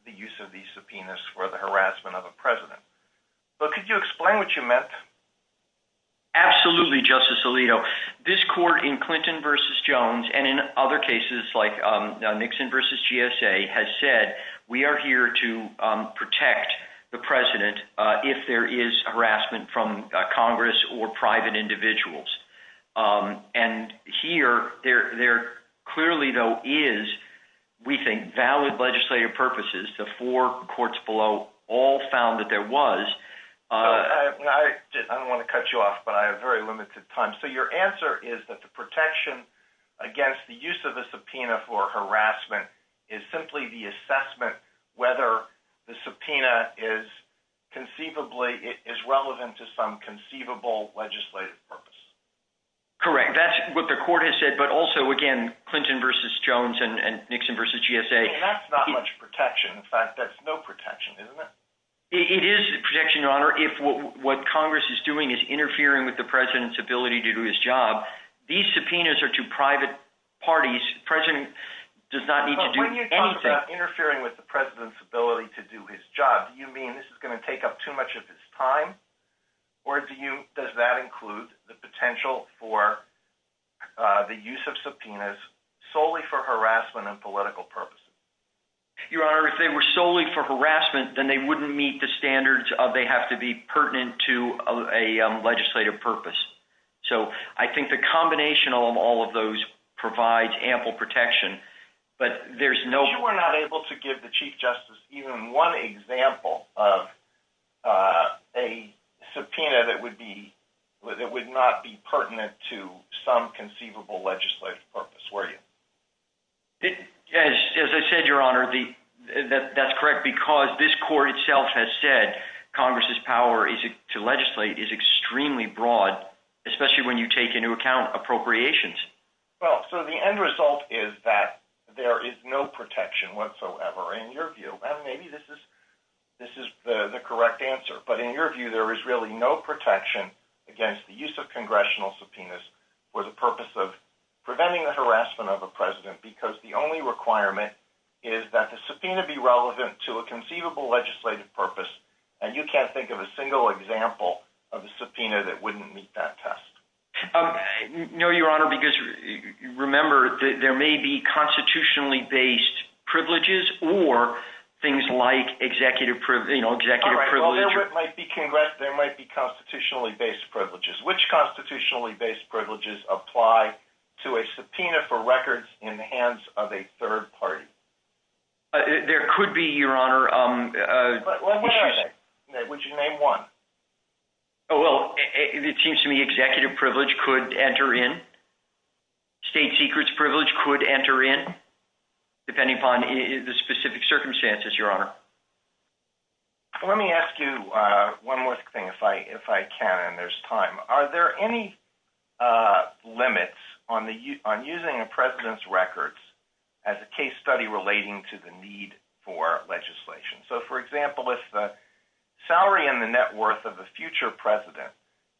the use of these subpoenas for the harassment of a president. So could you explain what you meant? Absolutely, Justice Alito. This Court in Clinton v. Jones, and in other cases like Nixon v. GSA, has said we are here to protect the president if there is harassment from Congress or private individuals. And here, there clearly, though, is, we think, valid legislative purposes. The four courts below all found that there was. I don't want to cut you off, but I have very limited time. So your answer is that the protection against the use of the subpoena for harassment is simply the assessment whether the subpoena is conceivably, is relevant to some conceivable legislative purpose. Correct. That's what the Court has said, but also, again, Clinton v. Jones and Nixon v. GSA. That's not much protection. In fact, that's no protection, isn't it? It is protection and honor if what Congress is doing is interfering with the president's ability to do his job. These subpoenas are to private parties. The president does not need to do anything. When you talk about interfering with the president's ability to do his job, do you mean this is going to take up too much of his time, or do you, does that include the potential for the use of subpoenas solely for harassment and political purposes? Your Honor, if they were solely for harassment, then they wouldn't meet the standards of they have to be pertinent to a legislative purpose. So I think the combination of all of those provides ample protection, but there's no- You were not able to give the Chief Justice even one example of a subpoena that would not be pertinent to some conceivable legislative purpose, were you? As I said, Your Honor, that's correct because this Court itself has said Congress's power to legislate is extremely broad, especially when you take into account appropriations. Well, so the end result is that there is no protection whatsoever. In your view, maybe this is the correct answer, but in your view, there is really no protection against the use of congressional subpoenas for the purpose of preventing the harassment of a president because the only requirement is that the subpoena be relevant to a conceivable legislative purpose, and you can't think of a single example of a subpoena that wouldn't meet that test. No, Your Honor, because remember, there may be constitutionally-based privileges or things like executive privilege. All right, well, there might be constitutionally-based privileges. Which constitutionally-based privileges apply to a subpoena for records in the hands of a president? Would you name one? Well, it seems to me executive privilege could enter in. State secrets privilege could enter in, depending upon the specific circumstances, Your Honor. Let me ask you one more thing, if I can, and there's time. Are there any limits on using a subpoena for legislation? So, for example, if the salary and the net worth of a future president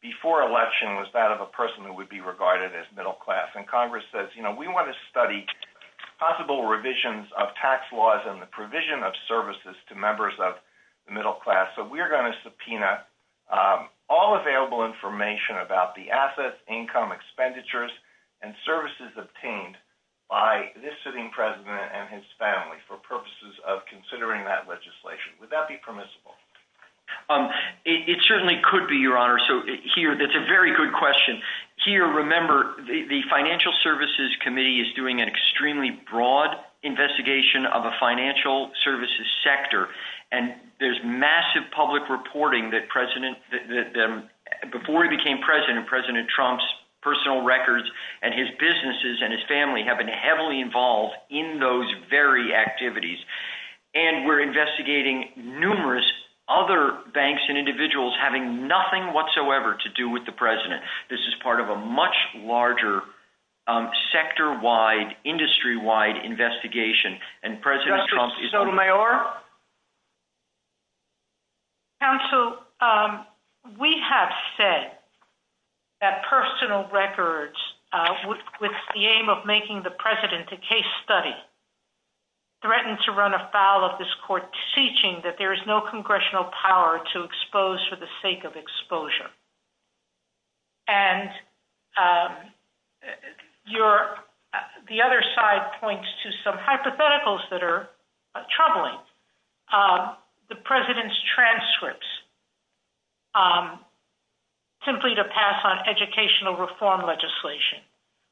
before election was that of a person who would be regarded as middle class, and Congress says, you know, we want to study possible revisions of tax laws and the provision of services to members of the middle class, so we're going to subpoena all available information about the assets, income, expenditures, and services obtained by this sitting president and his family for purposes of considering that legislation. Would that be permissible? It certainly could be, Your Honor. So here, that's a very good question. Here, remember, the Financial Services Committee is doing an extremely broad investigation of the financial services sector, and there's massive public reporting that before he became president, President Trump's personal records and his businesses and his family have been heavily involved in those very activities, and we're investigating numerous other banks and individuals having nothing whatsoever to do with the president. This is part of a much larger sector-wide, industry-wide investigation, and President Trump Counsel, we have said that personal records with the aim of making the president a case study threaten to run afoul of this court's teaching that there is no congressional power to expose for the sake of exposure, and the other side points to some hypotheticals that are prescripts simply to pass on educational reform legislation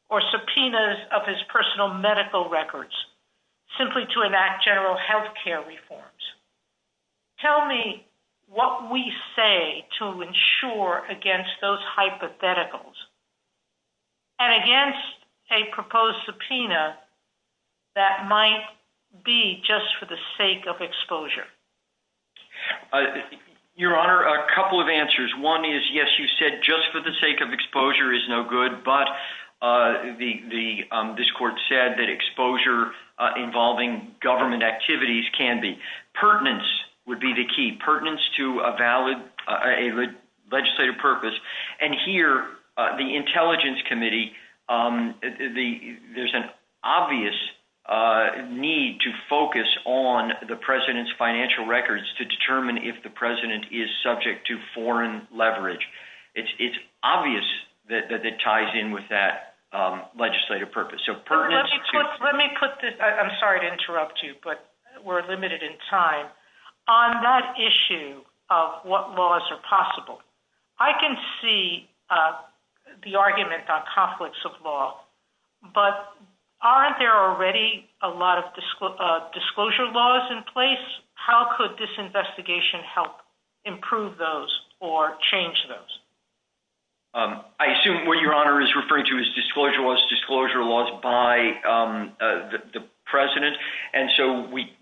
or subpoenas of his personal medical records simply to enact general health care reforms. Tell me what we say to ensure against those hypotheticals and against a proposed subpoena that might be just for the sake of exposure. Your Honor, a couple of answers. One is, yes, you said just for the sake of exposure is no good, but this court said that exposure involving government activities can be. Pertinence would be the key, pertinence to a valid legislative purpose, and here, the Intelligence Committee, there's an obvious need to focus on the president's financial records to determine if the president is subject to foreign leverage. It's obvious that it ties in with that legislative purpose. Let me put this, I'm sorry to interrupt you, but we're limited in time. On that issue of what laws are possible, I can see the argument about conflicts of law, but aren't there already a lot of disclosure laws in place? How could this investigation help improve those or change those? I assume what Your Honor is referring to is disclosure laws, disclosure laws by the president.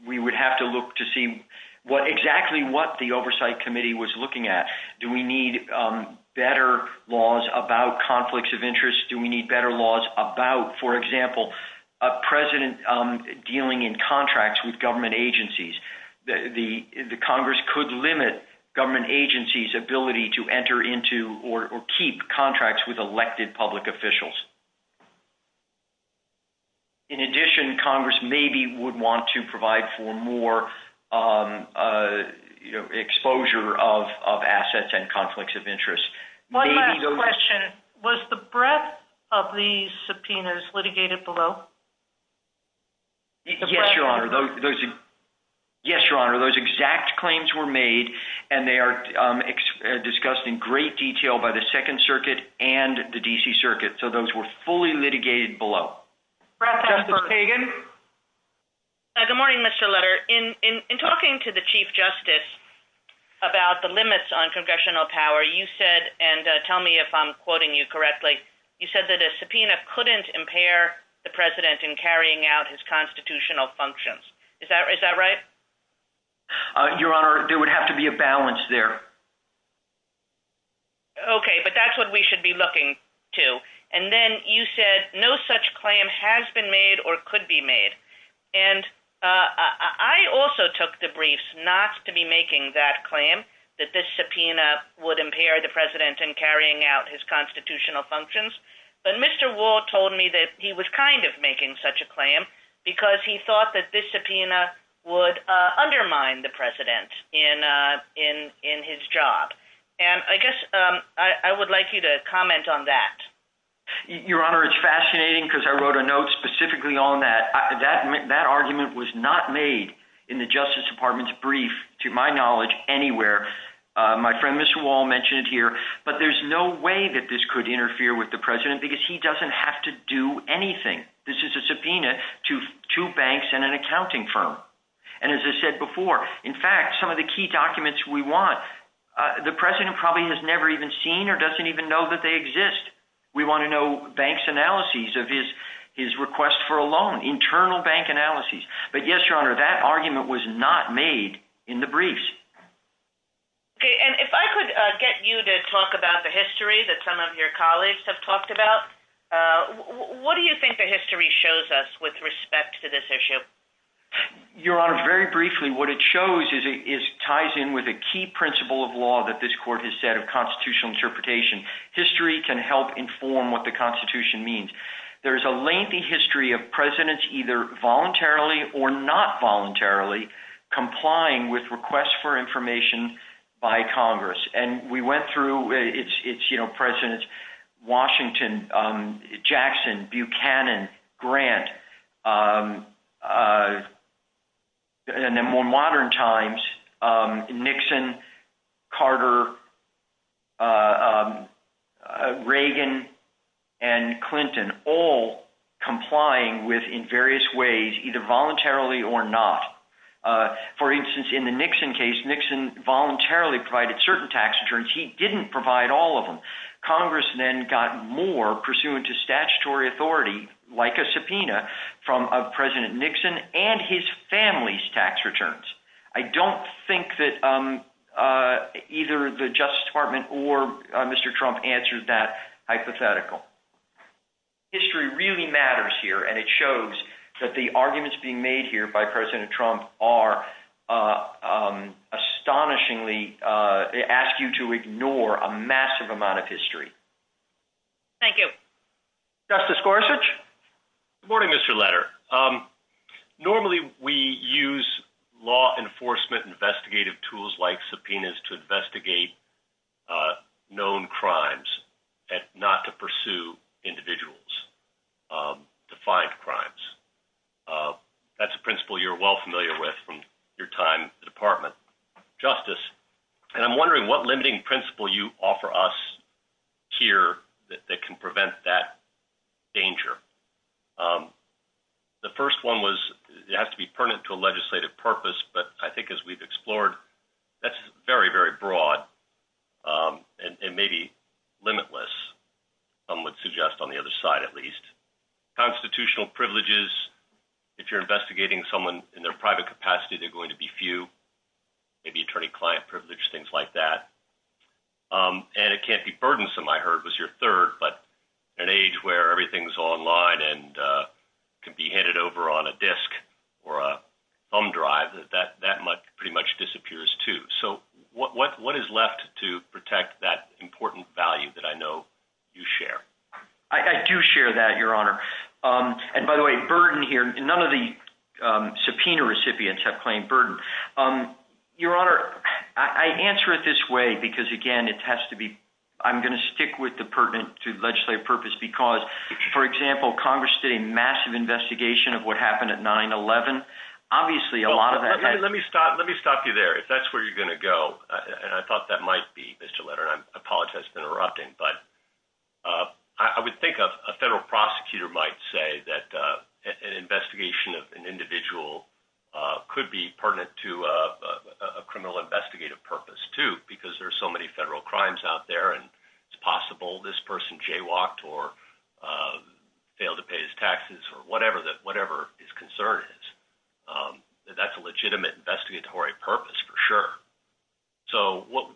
We would have to look to see exactly what the Oversight Committee was looking at. Do we need better laws about conflicts of interest? Do we need better laws about, for example, a president dealing in contracts with government agencies? The Congress could limit government agencies' ability to enter into or keep contracts with elected public officials. In addition, Congress maybe would want to provide for more exposure of assets and conflicts of interest. One last question. Was the breadth of the subpoenas litigated below? Yes, Your Honor. Those exact claims were made, and they are discussed in great detail by the Circuit, so those were fully litigated below. Justice Kagan? Good morning, Mr. Lutter. In talking to the Chief Justice about the limits on congressional power, you said, and tell me if I'm quoting you correctly, you said that a subpoena couldn't impair the president in carrying out his constitutional functions. Is that right? Your Honor, there would have to be a balance there. Okay, but that's what we should be looking to. And then you said no such claim has been made or could be made. And I also took the briefs not to be making that claim, that this subpoena would impair the president in carrying out his constitutional functions. But Mr. Wall told me that he was kind of making such a claim because he thought that this subpoena would undermine the president's job. And I guess I would like you to comment on that. Your Honor, it's fascinating because I wrote a note specifically on that. That argument was not made in the Justice Department's brief, to my knowledge, anywhere. My friend Mr. Wall mentioned it here. But there's no way that this could interfere with the president because he doesn't have to do anything. This is a subpoena to two banks and an accounting firm. And as I said before, in fact, some of the key documents we want, the president probably has never even seen or doesn't even know that they exist. We want to know banks' analyses of his request for a loan, internal bank analyses. But yes, Your Honor, that argument was not made in the briefs. Okay, and if I could get you to talk about the history that some of your colleagues have talked about, what do you think the history shows us with respect to this issue? Your Honor, very briefly, what it shows is it ties in with a key principle of law that this court has said of constitutional interpretation. History can help inform what the Constitution means. There's a lengthy history of presidents either voluntarily or not voluntarily complying with requests for information by Congress. And we went through its presidents, Washington, Jackson, Buchanan, Grant, and then more modern times, Nixon, Carter, Reagan, and Clinton, all complying with, in various ways, either voluntarily or not. For instance, in the Nixon case, Nixon voluntarily provided certain tax returns. He didn't provide all of them. Congress then got more pursuant to statutory authority, like a subpoena, from President Nixon and his family's tax returns. I don't think that either the Justice Department or Mr. Trump answered that hypothetical. History really matters here, and it shows that the amount of history. Thank you. Justice Gorsuch? Good morning, Mr. Leder. Normally, we use law enforcement investigative tools like subpoenas to investigate known crimes and not to pursue individuals to find crimes. That's a principle you're well familiar with from your time in the Department of Justice. And I'm wondering what lending principle you offer us here that can prevent that danger. The first one was, it has to be pertinent to a legislative purpose, but I think as we've explored, that's very, very broad and maybe limitless, some would suggest on the other side, at least. Constitutional privileges, if you're investigating someone in their private capacity, they're going to be few. Maybe attorney-client privilege, things like that. And it can't be burdensome, I heard was your third, but at an age where everything's online and can be handed over on a disc or a thumb drive, that pretty much disappears too. So what is left to protect that important value that I know you share? I do share that, Your Honor. And by the way, burden here, none of the subpoena recipients have plain burden. Your Honor, I answer it this way, because again, it has to be, I'm going to stick with the pertinent to legislative purpose because, for example, Congress did a massive investigation of what happened at 9-11. Obviously, a lot of that- Let me stop you there. If that's where you're going to go, and I thought that might be, Mr. Leonard, I apologize for interrupting, but I would think a federal prosecutor might say that an investigation of an individual could be pertinent to a criminal investigative purpose too, because there's so many federal crimes out there and it's possible this person jaywalked or failed to pay his taxes or whatever his concern is. That's a legitimate investigatory purpose for sure. So what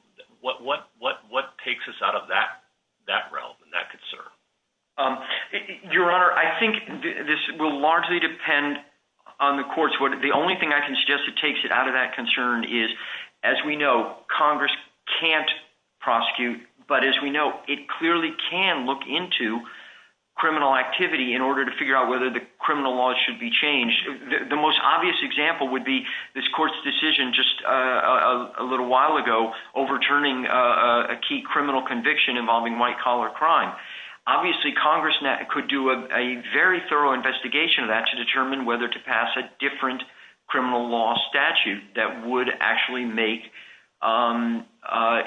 takes us out of that realm and that concern? Your Honor, I think this will largely depend on the courts. The only thing I can suggest that takes it out of that concern is, as we know, Congress can't prosecute, but as we know, it clearly can look into criminal activity in order to figure out whether the criminal laws should be changed. The most obvious example would be this court's decision just a little while ago overturning a key criminal conviction involving white collar crime. Obviously, Congress could do a very thorough investigation of that to determine whether to pass a different criminal law statute that would actually make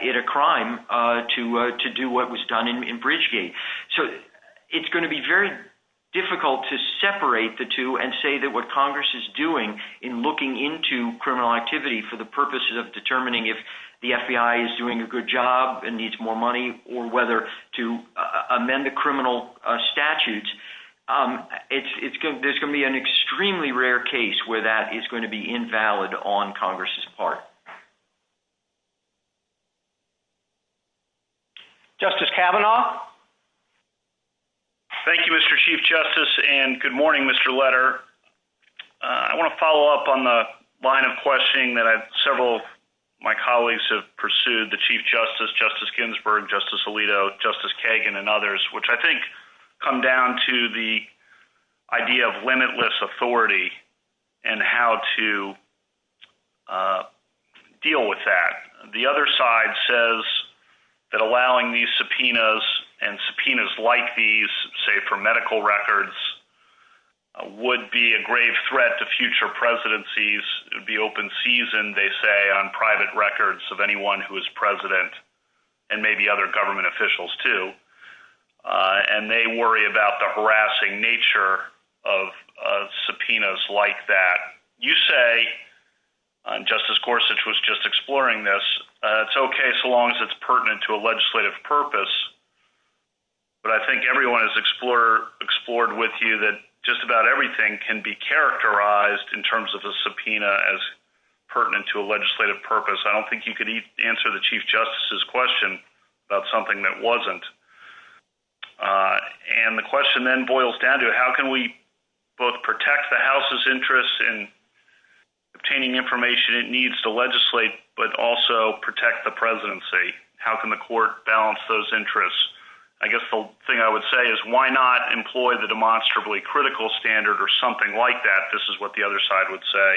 it a crime to do what was done in Bridgegate. So it's going to be very difficult to separate the two and say that what criminal activity for the purposes of determining if the FBI is doing a good job and needs more money or whether to amend the criminal statutes. There's going to be an extremely rare case where that is going to be invalid on Congress's part. Justice Kavanaugh. Thank you, Mr. Chief Justice and good morning, Mr. Letter. I want to follow up on the line of questioning that several of my colleagues have pursued, the Chief Justice, Justice Ginsburg, Justice Alito, Justice Kagan, and others, which I think come down to the idea of limitless authority and how to deal with that. The other side says that allowing these subpoenas and subpoenas like these, say for medical records, would be a grave threat to future presidencies, the open season, they say, on private records of anyone who is president, and maybe other government officials too. And they worry about the harassing nature of subpoenas like that. You say, Justice Gorsuch was just exploring this. It's okay so long as it's pertinent to a legislative purpose. But I think everyone has explored with you that just about everything can be characterized in terms of a subpoena as pertinent to a legislative purpose. I don't think you could answer the Chief Justice's question about something that wasn't. And the question then boils down to how can we both protect the House's interests in obtaining information it needs to address those interests. I guess the thing I would say is why not employ the demonstrably critical standard or something like that, this is what the other side would say,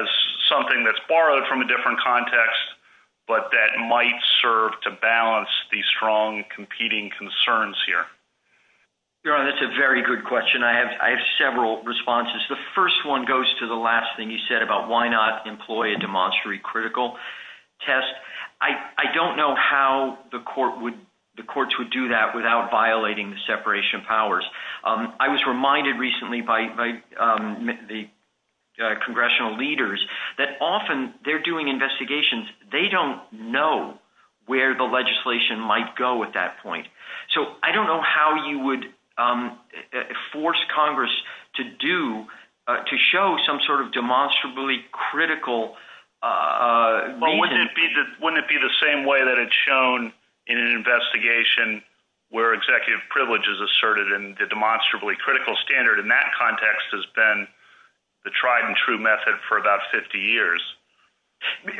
as something that's borrowed from a different context, but that might serve to balance these strong competing concerns here. Your Honor, that's a very good question. I have several responses. The first one goes to the last thing you said about why not employ a demonstrably critical test. I don't know how the courts would do that without violating the separation of powers. I was reminded recently by the congressional leaders that often they're doing investigations, they don't know where the legislation might go at that point. So I don't know how you would force Congress to do, to show some sort of demonstrably critical reason. But wouldn't it be the same way that it's shown in an investigation where executive privilege is asserted and the demonstrably critical standard in that context has been the tried and true method for about 50 years?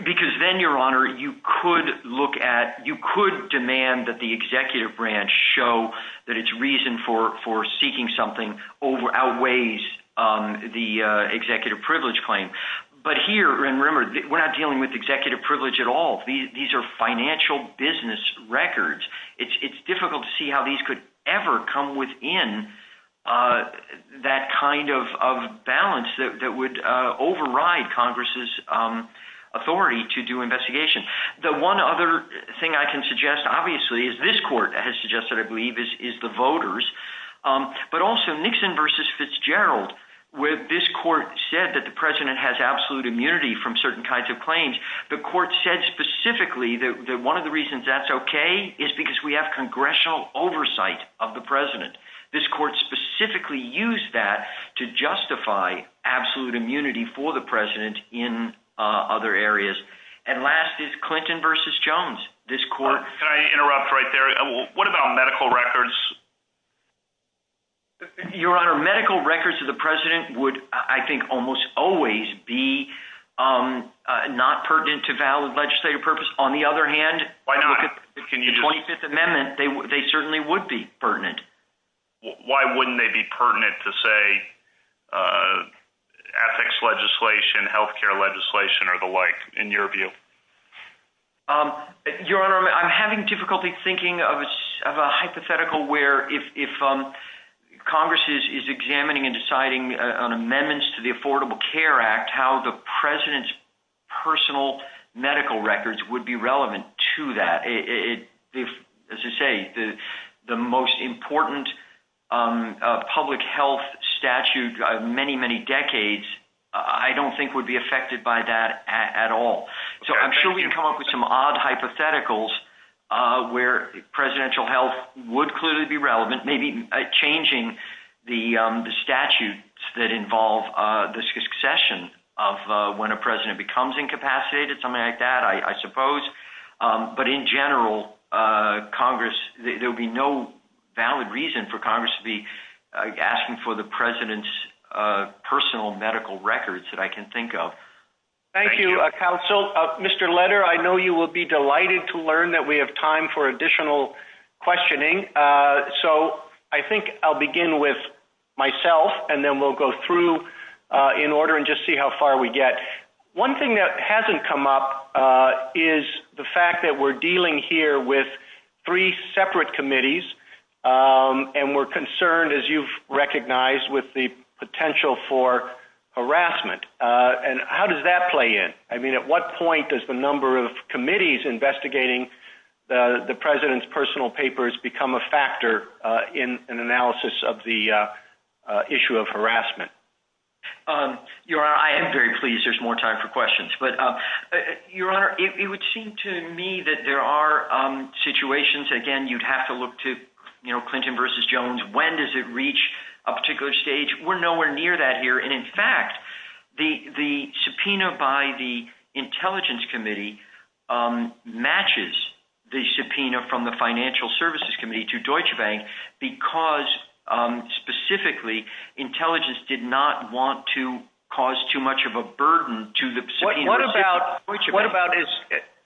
Because then, Your Honor, you could look at, you could demand that the executive branch show that its reason for seeking something outweighs the executive privilege claim. But here, remember, we're not dealing with executive privilege at all. These are financial business records. It's difficult to see how these could ever come within that kind of balance that would override Congress's authority to do investigation. The one other thing I can suggest, obviously, is this court has suggested, I believe, is the voters, but also Nixon versus Fitzgerald, where this court said that the president has absolute immunity from certain kinds of claims. The court said specifically that one of the reasons that's okay is because we have congressional oversight of the president. This court specifically used that to justify absolute immunity for the president in other areas. And last is Clinton versus Jones. This court- Can I interrupt right there? What about medical records? Your Honor, medical records of the president would, I think, almost always be not pertinent to valid legislative purpose. On the other hand, if you look at the 25th Amendment, they certainly would be pertinent. Why wouldn't they be pertinent to, say, ethics legislation, healthcare legislation, or the like, in your view? Your Honor, I'm having difficulty thinking of a hypothetical where if Congress is examining and deciding on amendments to the Affordable Care Act, how the president's personal medical records would be relevant to that. As I say, the most important public health statute of many, decades, I don't think would be affected by that at all. I'm sure we can come up with some odd hypotheticals where presidential health would clearly be relevant, maybe changing the statutes that involve the succession of when a president becomes incapacitated, something like that, I suppose. But in general, there would be no valid reason for Congress to be examining the president's personal medical records that I can think of. Thank you, counsel. Mr. Leder, I know you will be delighted to learn that we have time for additional questioning. So I think I'll begin with myself, and then we'll go through in order and just see how far we get. One thing that hasn't come up is the fact that we're dealing here with three separate committees, and we're concerned, as you've recognized, with the potential for harassment. And how does that play in? I mean, at what point does the number of committees investigating the president's personal papers become a factor in an analysis of the issue of harassment? Your Honor, I am very pleased there's more time for questions. But Your Honor, it would again, you'd have to look to Clinton versus Jones. When does it reach a particular stage? We're nowhere near that here. And in fact, the subpoena by the Intelligence Committee matches the subpoena from the Financial Services Committee to Deutsche Bank, because specifically, intelligence did not want to cause too much of a burden to the subpoena. What about,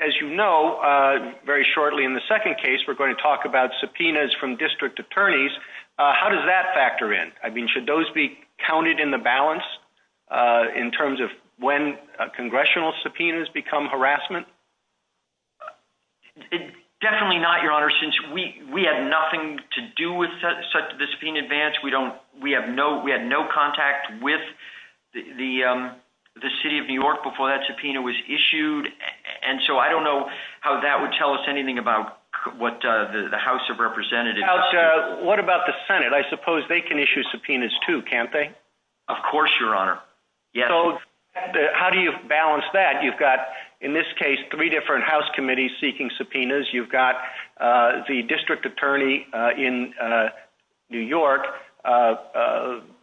as you know, very shortly in the case, we're going to talk about subpoenas from district attorneys. How does that factor in? I mean, should those be counted in the balance in terms of when congressional subpoenas become harassment? Definitely not, Your Honor, since we have nothing to do with the subpoena advance. We had no contact with the City of New York before that subpoena was issued. And so I don't know how that would tell us anything about what the House of Representatives. What about the Senate? I suppose they can issue subpoenas too, can't they? Of course, Your Honor. So how do you balance that? You've got, in this case, three different House committees seeking subpoenas. You've got the district attorney in New York.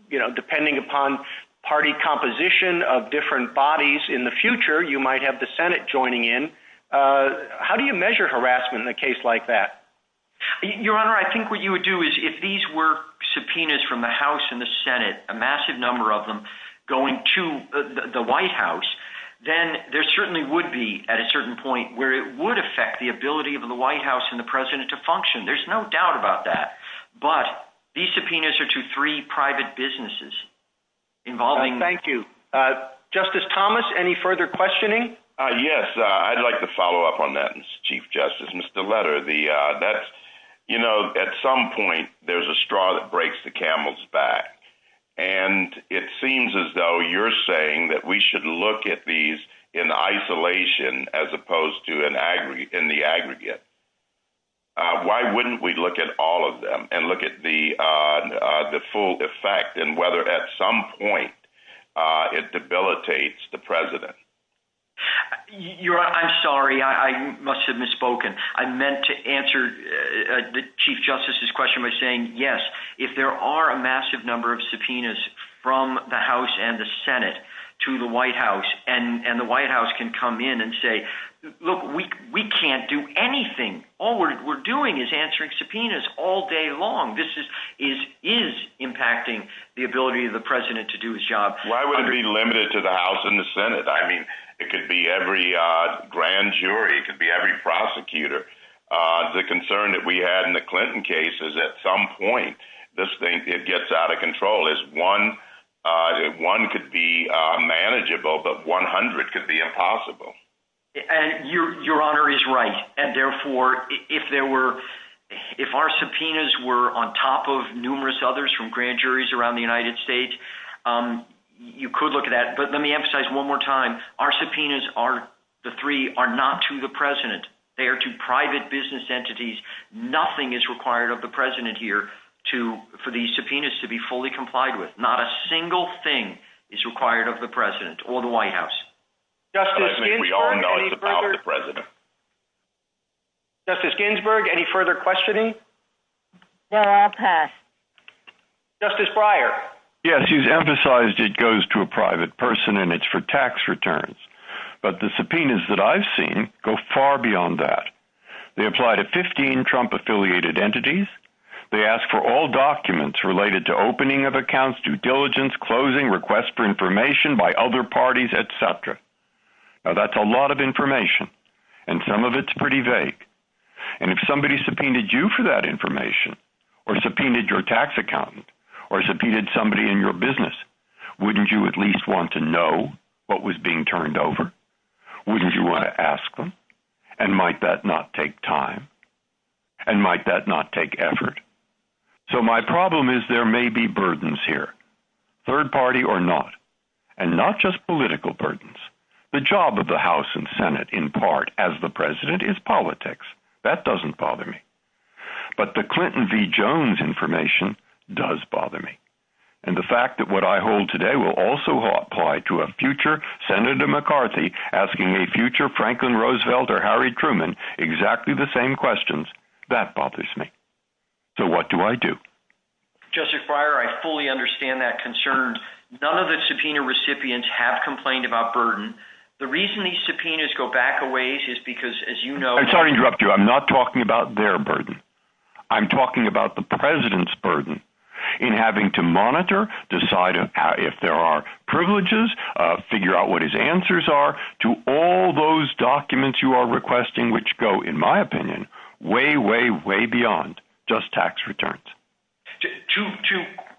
You know, depending upon party composition of different bodies in the future, you might have the Senate joining in. How do you measure harassment in a case like that? Your Honor, I think what you would do is if these were subpoenas from the House and the Senate, a massive number of them going to the White House, then there certainly would be, at a certain point, where it would affect the ability of the White House and the President to function. There's no doubt about that. But these subpoenas are to three private businesses involving — Thank you. Justice Thomas, any further questioning? Yes. I'd like to follow up on that, Chief Justice. Mr. Leder, you know, at some point, there's a straw that breaks the camel's back. And it seems as though you're saying that we should look at these in isolation as opposed to in the aggregate. Why wouldn't we look at and look at the full effect and whether at some point it debilitates the President? Your Honor, I'm sorry. I must have misspoken. I meant to answer the Chief Justice's question by saying, yes, if there are a massive number of subpoenas from the House and the Senate to the White House, and the White House can come in and say, look, we can't do anything. All we're doing is answering subpoenas all day long. This is impacting the ability of the President to do his job. Why wouldn't it be limited to the House and the Senate? I mean, it could be every grand jury. It could be every prosecutor. The concern that we had in the Clinton case is at some point this thing gets out of control. One could be manageable, but 100 could be impossible. And your Honor is right. And therefore, if our subpoenas were on top of numerous others from grand juries around the United States, you could look at that. But let me emphasize one more time. Our subpoenas, the three, are not to the President. They are to private business entities. Nothing is required of the President here for these subpoenas to be fully complied with. Not a single thing is required of the President or the White House. Justice Ginsburg, any further questioning? No, I'll pass. Justice Breyer? Yes, he's emphasized it goes to a private person, and it's for tax returns. But the subpoenas that I've seen go far beyond that. They apply to 15 Trump-affiliated entities. They ask for all documents related to opening of accounts, due diligence, closing, requests for information by other parties, etc. Now, that's a lot of information, and some of it's pretty vague. And if somebody subpoenaed you for that information, or subpoenaed your tax accountant, or subpoenaed somebody in your business, wouldn't you at least want to know what was being turned over? Wouldn't you want to ask them? And might that not take time? And might that not take effort? So, my problem is there may be burdens here, third party or not, and not just political burdens. The job of the House and Senate, in part, as the President, is politics. That doesn't bother me. But the Clinton v. Jones information does bother me. And the fact that what I hold today will also apply to a future Senator McCarthy asking a future Franklin Roosevelt or Harry Truman exactly the same questions, that bothers me. So, what do I do? Justice Breyer, I fully understand that concern. None of the subpoena recipients have complained about burden. The reason these subpoenas go back a ways is because, as you know- I'm sorry to interrupt you. I'm not talking about their burden. I'm talking about the President's burden in having to monitor, decide if there are privileges, figure out what his in my opinion, way, way, way beyond just tax returns. Two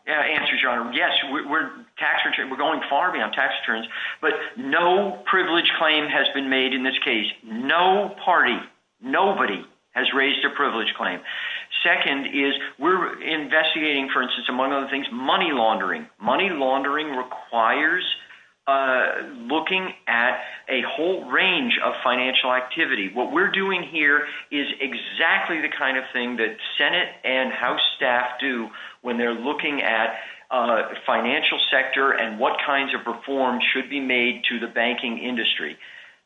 answers, Your Honor. Yes, we're going far beyond tax returns. But no privilege claim has been made in this case. No party, nobody has raised a privilege claim. Second is we're investigating, for instance, among other things, money laundering. Money laundering requires a looking at a whole range of financial activity. What we're doing here is exactly the kind of thing that Senate and House staff do when they're looking at financial sector and what kinds of reforms should be made to the banking industry.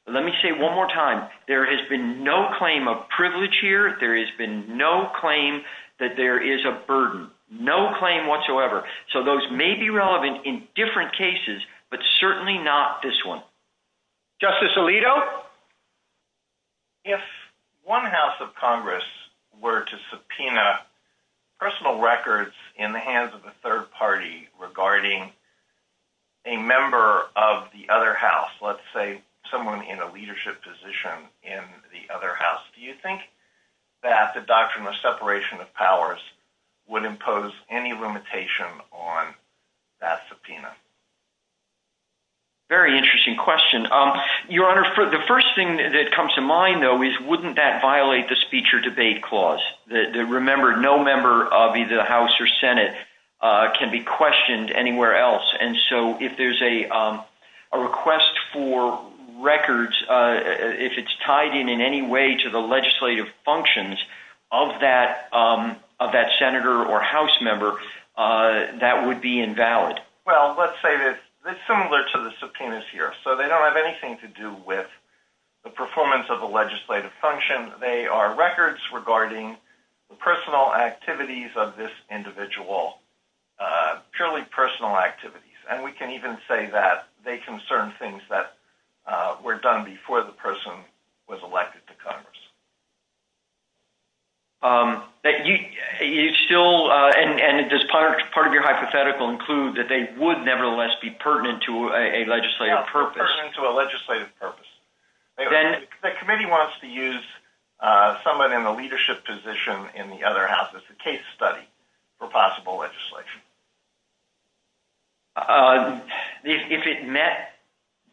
Let me say one more time. There has been no claim of privilege here. There has been no claim that there is a burden. No claim whatsoever. So those may be relevant in different cases, but certainly not this one. Justice Alito? If one House of Congress were to subpoena personal records in the hands of a third party regarding a member of the other House, let's say someone in a leadership position in the other House, do you think that the doctrine of separation of powers would impose any limitation on that subpoena? Very interesting question. Your Honor, the first thing that comes to mind, though, is wouldn't that violate the speech or debate clause? Remember, no member of either the House or Senate can be questioned anywhere else. And so if there's a request for records, if it's tied in in any way to the legislative functions of that senator or House member, that would be invalid. Well, let's say this. It's similar to the subpoenas here. So they don't have anything to do with the performance of the legislative function. They are records regarding the personal activities of this individual, purely personal activities. And we can even say that they concern things that were done before the person was elected to Congress. And does part of your hypothetical include that they would, nevertheless, be pertinent to a legislative purpose? Yeah, pertinent to a legislative purpose. The committee wants to use someone in a leadership position in the other House as a case study for possible legislation. If it met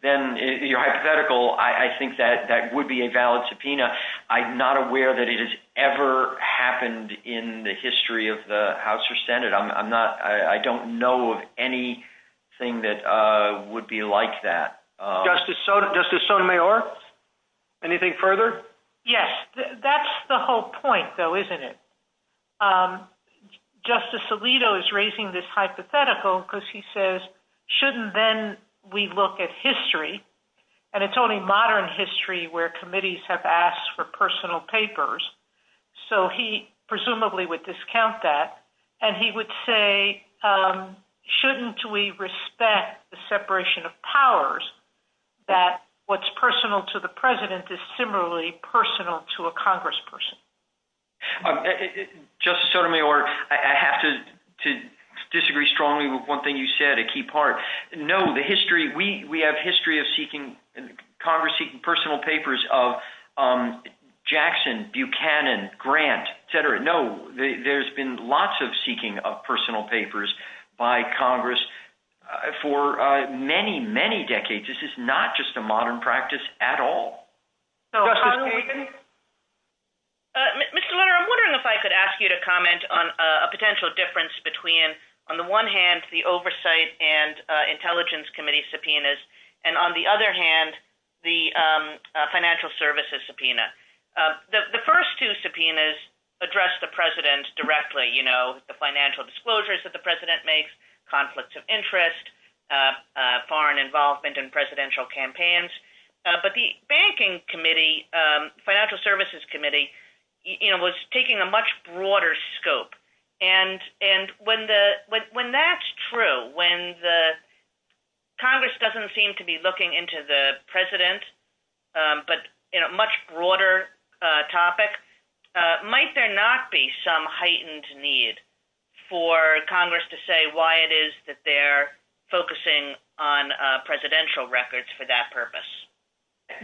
then your hypothetical, I think that that would be a valid subpoena. I'm not aware that it has ever happened in the history of the House or Senate. I'm not, I don't know of any thing that would be like that. Justice Sotomayor, anything further? Yes, that's the whole point, though, isn't it? Justice Alito is raising this hypothetical, because he says, shouldn't then we look at history? And it's only modern history where committees have asked for personal papers. So he presumably would discount that. And he would say, shouldn't we respect the separation of powers, that what's personal to the president is similarly personal to a congressperson? Okay, Justice Sotomayor, I have to disagree strongly with one thing you said, a key part. No, the history, we have history of seeking, Congress seeking personal papers of Jackson, Buchanan, Grant, etc. No, there's been lots of seeking of personal papers by Congress for many, many decades. This is not just a modern practice at all. Justice Sotomayor? Mr. Lerner, I'm wondering if I could ask you to comment on a potential difference between, on the one hand, the Oversight and Intelligence Committee subpoenas, and on the other hand, the Financial Services subpoena. The first two subpoenas address the president's directly, you know, the financial disclosures that the president makes, conflicts of interest, foreign involvement in presidential campaigns. But the Banking Committee, Financial Services Committee, you know, was taking a much broader scope. And when that's true, when Congress doesn't seem to be looking into the president, but in a much broader topic, might there not be some heightened need for Congress to say why it is that they're focusing on presidential records for that purpose?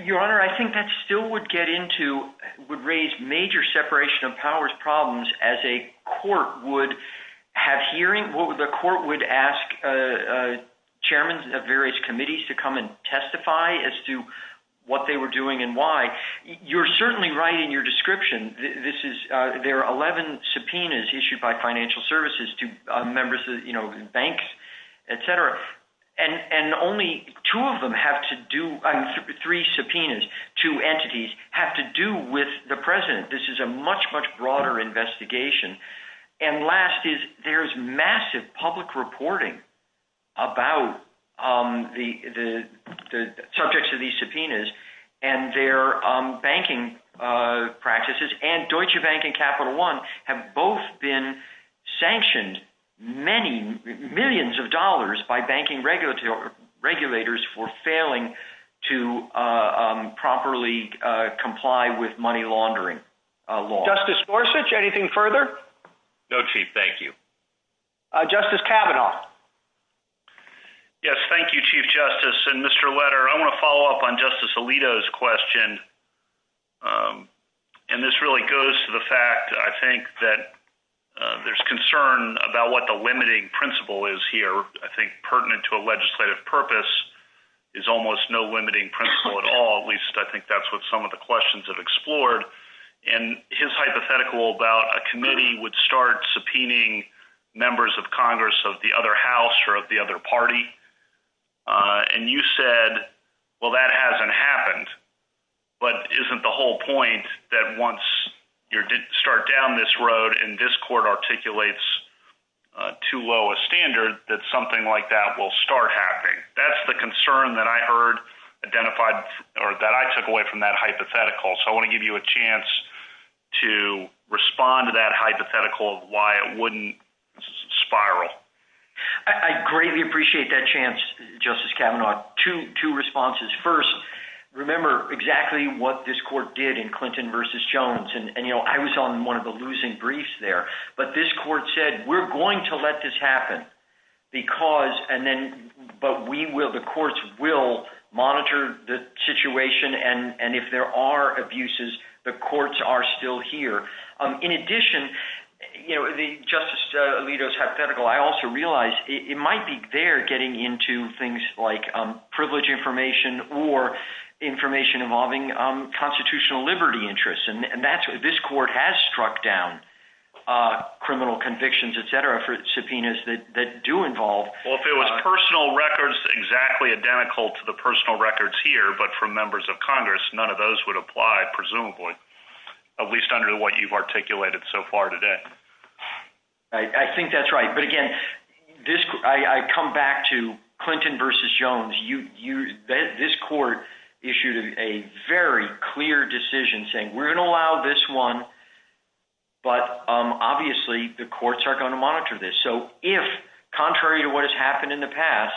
Your Honor, I think that still would get into, would raise major separation of powers problems as a court would have hearing, where the court would ask chairmen of various committees to come and testify as to what they were doing and why. You're certainly right in your description. This is, there are 11 subpoenas issued by Financial Services to members of, you know, banks, et cetera. And only two of them have to do, three subpoenas, two entities have to do with the president. This is a much, much broader investigation. And last is, there's massive public reporting about the subjects of these subpoenas and their banking practices and Deutsche Bank and Capital One have both been sanctioned many millions of dollars by banking regulators for failing to properly comply with money laundering laws. Justice Gorsuch, anything further? No, Chief, thank you. Justice Kavanaugh. Yes, thank you, Chief Justice and Mr. Leder. I want to follow up on Justice Alito's question. And this really goes to the fact that I think that there's concern about what the limiting principle is here. I think pertinent to a legislative purpose is almost no limiting principle at all. At least I think that's what some of the questions have explored. And his hypothetical about a committee would start subpoenaing members of Congress of the other house or of the other party. And you said, well, that hasn't happened, but isn't the whole point that once you start down this road and this court articulates too low a standard, that something like that will start happening. That's the concern that I heard identified or that I took away from that hypothetical. So I want to give you a chance to respond to that hypothetical of why it wouldn't spiral. I greatly appreciate that chance, Justice Kavanaugh. Two responses. First, remember exactly what this court did in Clinton versus Jones. And I was on one of the losing briefs there, but this court said, we're going to let this happen. But the courts will monitor the situation. And if there are abuses, the courts are still here. In addition, Justice Alito's hypothetical, I also realized it might be there getting into things like privilege information or information involving constitutional liberty interests. And this court has struck down criminal convictions, et cetera, for subpoenas that do involve... Well, if it was personal records, exactly identical to the personal records here, but from members of Congress, none of those would apply, presumably, at least under what you've articulated so far today. I think that's right. But again, I come back to Clinton versus Jones. This court issued a very clear decision saying, we're going to allow this one, but obviously the courts are going to monitor this. So if, contrary to what has happened in the past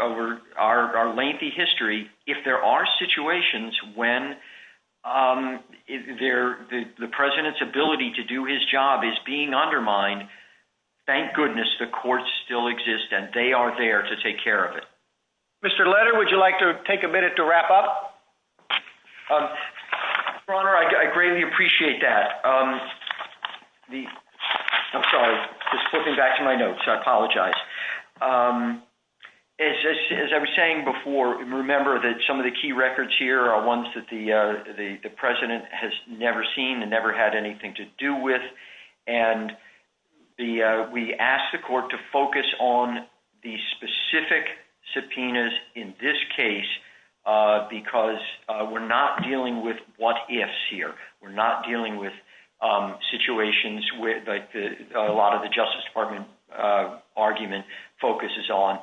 over our lengthy history, if there are situations when the president's ability to do his job is being undermined, thank goodness the courts still exist and they are there to take care of it. Mr. Letter, would you like to take a minute to wrap up? Your Honor, I greatly appreciate that. I'm sorry, just flipping back to my notes. I apologize. As I was saying before, remember that some of the key records here are ones that the president has never seen and never had anything to do with. And we asked the court to focus on the specific subpoenas in this case because we're not dealing with what ifs here. We're not dealing with situations where a lot of the Justice Department argument focuses on,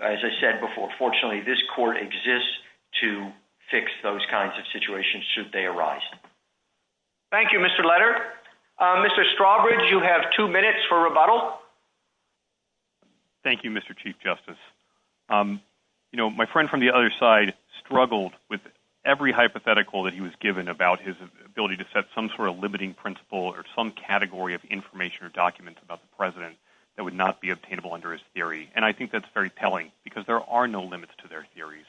as I said before, fortunately this court exists to fix those kinds of situations should they arise. Thank you, Mr. Letter. Mr. Strawbridge, you have two minutes for rebuttal. Thank you, Mr. Chief Justice. My friend from the other side struggled with every hypothetical that he was given about his ability to set some sort of limiting principle or some category of information or documents about the president that would not be obtainable under his theory. And I think that's very telling because there are no limits to their theories.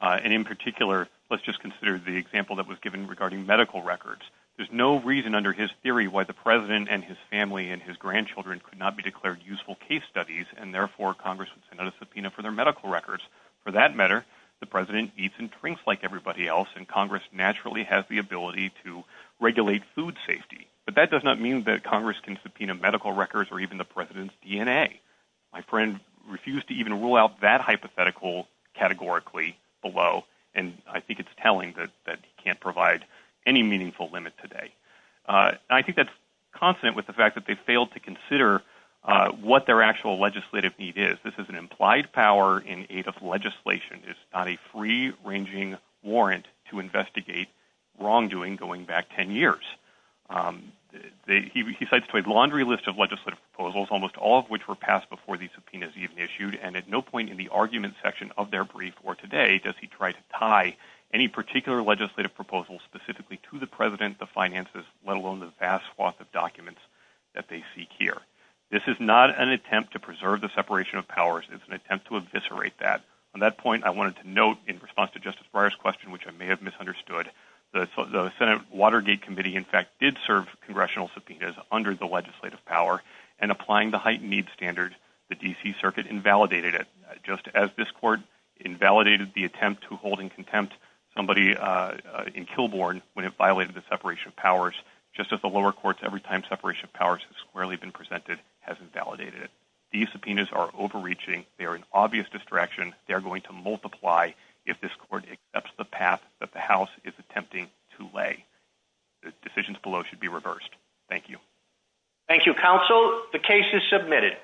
And in particular, let's just consider the example that was given regarding medical records. There's no reason under his theory why the president and his family and his grandchildren could not be declared useful case studies and therefore Congress would send out a subpoena for their medical records. For that matter, the president eats and drinks like everybody else and Congress naturally has the ability to regulate food safety. But that does not mean that Congress can subpoena medical records or even the president's DNA. My friend refused to even rule out that hypothetical categorically below. And I think it's telling that he can't provide any meaningful limit today. I think that's constant with the fact that they failed to consider what their actual legislative need is. This is an implied power in aid of legislation. It's not a free ranging warrant to investigate wrongdoing going back 10 years. He cites to a laundry list of legislative proposals, almost all of which were passed before the subpoenas even issued and at no point in the argument section of their brief or today does he try to tie any particular legislative proposal specifically to the president, the finances, let alone the vast swath of documents that they seek here. This is not an attempt to preserve the separation of powers. It's an attempt to eviscerate that. On that point, I wanted to note in response to Justice Breyer's question, which I may have misunderstood, the Senate Watergate Committee, in fact, did serve congressional subpoenas under the legislative power and applying the heightened needs standard, the DC circuit invalidated it, just as this court invalidated the attempt to hold in contempt somebody in Kilbourne when it violated the separation of powers, just as the lower courts, every time separation of powers has squarely been presented, hasn't validated it. These subpoenas are overreaching. They're an obvious distraction. They're going to multiply if this court accepts the path that the house is attempting to lay decisions below should be reversed. Thank you. Thank you, counsel. The case is submitted.